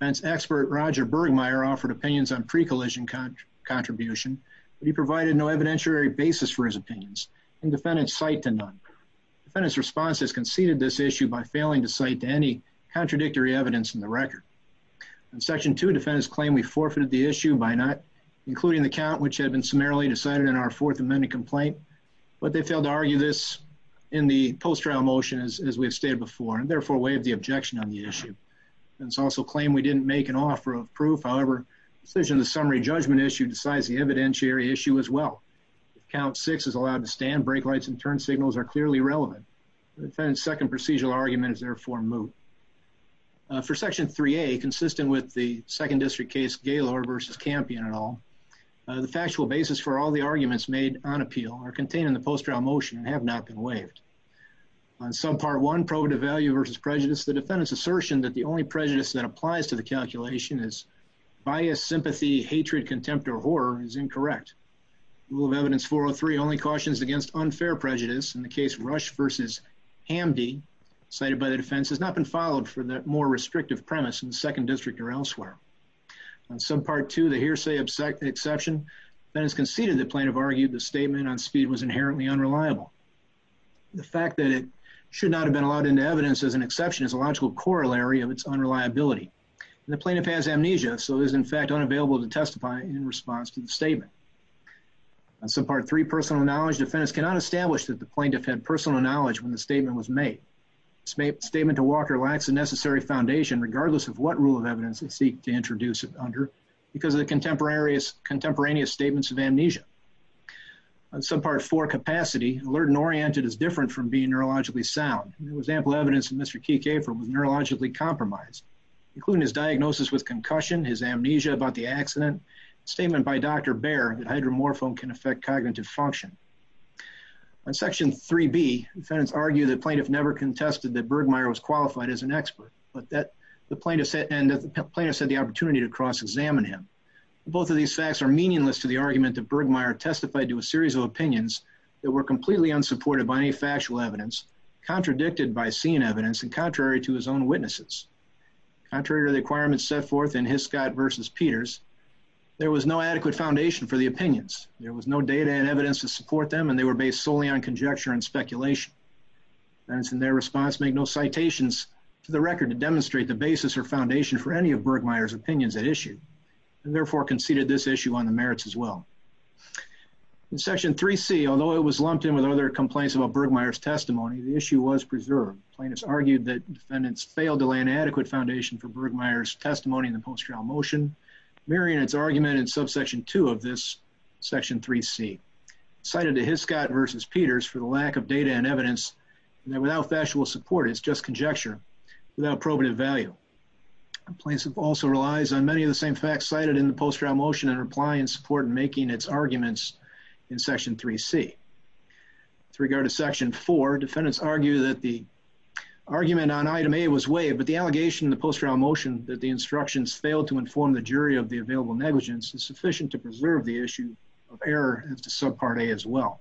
That's expert. Roger Bergmayer offered opinions on pre-collision. Contribution. But he provided no evidentiary basis for his opinions. And defendants cite to none. And his response has conceded this issue by failing to cite to any contradictory evidence in the record. In section two, defendants claim we forfeited the issue by not including the count, which had been summarily decided in our fourth amendment complaint, but they failed to argue this. In the post-trial motion is as we've stated before, and therefore waive the objection on the issue. And it's also claimed we didn't make an offer of proof. However, decision to summary judgment issue decides the evidentiary issue as well. Count six is allowed to stand brake lights and turn signals are clearly relevant. The second procedural argument is therefore moved. For section three, a consistent with the second district case. Gaylord versus campion at all. The factual basis for all the arguments made on appeal are contained in the post-trial motion and have not been waived. On some part, one probative value versus prejudice. The defendant's assertion that the only prejudice that applies to the calculation is. Bias sympathy, hatred, contempt, or horror is incorrect. We'll have evidence for three only cautions against unfair prejudice in the case rush versus. Hamdi. Cited by the defense has not been followed for that more restrictive premise in the second district or elsewhere. On some part to the hearsay, upset the exception. Then it's conceded the plaintiff argued the statement on speed was inherently unreliable. The fact that it should not have been allowed into evidence as an exception is a logical corollary of its unreliability. And the plaintiff has amnesia. So is in fact unavailable to testify in response to the statement. And so part three, personal knowledge, defense cannot establish that the plaintiff had personal knowledge when the statement was made. It's made statement to Walker lacks a necessary foundation, regardless of what rule of evidence they seek to introduce it under because of the contemporaries contemporaneous statements of amnesia. On some part for capacity alert and oriented is different from being neurologically sound. There was ample evidence that Mr. Kikafor was neurologically compromised. Including his diagnosis with concussion, his amnesia about the accident. Statement by Dr. Can affect cognitive function. On section three B defendants argue that plaintiff never contested that Bergmayer was qualified as an expert, but that the plaintiff said, and the plaintiff said the opportunity to cross examine him. Both of these facts are meaningless to the argument that Bergmayer testified to a series of opinions that were completely unsupported by any factual evidence contradicted by seeing evidence in contrary to his own witnesses. Contrary to the requirements set forth in his Scott versus Peters. There was no adequate foundation for the opinions. There was no data and evidence to support them. And they were based solely on conjecture and speculation. And it's in their response, make no citations to the record to demonstrate the basis or foundation for any of Bergmayer's opinions at issue. And therefore conceded this issue on the merits as well. In section three C, although it was lumped in with other complaints about Bergmayer's testimony, the issue was preserved. Plaintiffs argued that defendants failed to lay an adequate foundation for the arguments in the post round motion. arguments in the post round motion. Mary and its argument in subsection two of this. Section three C. Cited to his Scott versus Peters for the lack of data and evidence. And then without factual support, it's just conjecture. Without probative value. Complaints have also relies on many of the same facts cited in the post round motion and replying support and making its arguments in section three C. With regard to section four, defendants argue that the argument on item a was way, but the allegation in the post round motion that the instructions failed to inform the jury of the available negligence is sufficient to preserve the issue. Of error as to subpart a as well.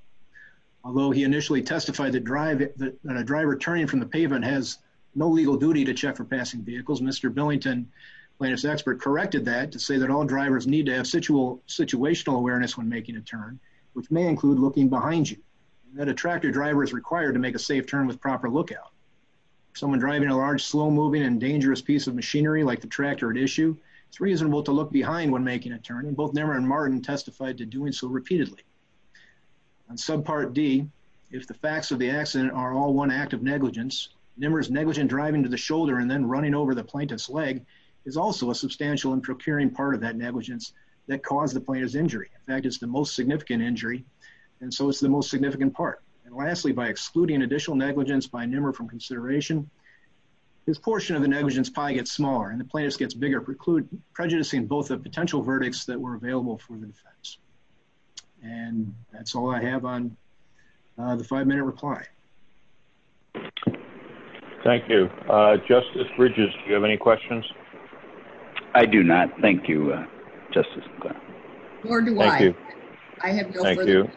Although he initially testified that drive it, that a driver turning from the pavement has no legal duty to check for passing vehicles. Mr. Billington plaintiffs expert corrected that to say that all drivers need to have situal situational awareness when making a turn, which may include looking behind you. And that attractor driver is required to make a safe turn with proper lookout. Someone driving a large, slow moving and dangerous piece of machinery like the tractor at issue. It's reasonable to look behind when making a turn and both never in Martin testified to doing so repeatedly. On subpart D. If the facts of the accident are all one act of negligence, numerous negligent driving to the shoulder and then running over the plaintiff's leg is also a substantial and procuring part of that negligence that caused the player's injury. In fact, it's the most significant injury. And so it's the most significant part. And lastly, by excluding additional negligence by numerous from consideration. This portion of the negligence pie gets smaller and the plaintiff's gets bigger preclude prejudicing, both the potential verdicts that were available for the defense. And that's all I have on the five minute reply. Thank you. Justice bridges. Do you have any questions? I do not. Thank you. Justice. Thank you. I have no further.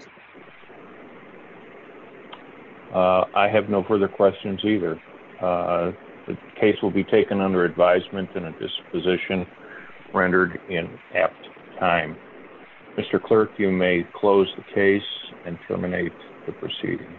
I have no further questions either. The case will be taken under advisement and a disposition. Rendered in at time. Mr. Clerk, you may close the case and terminate the proceedings.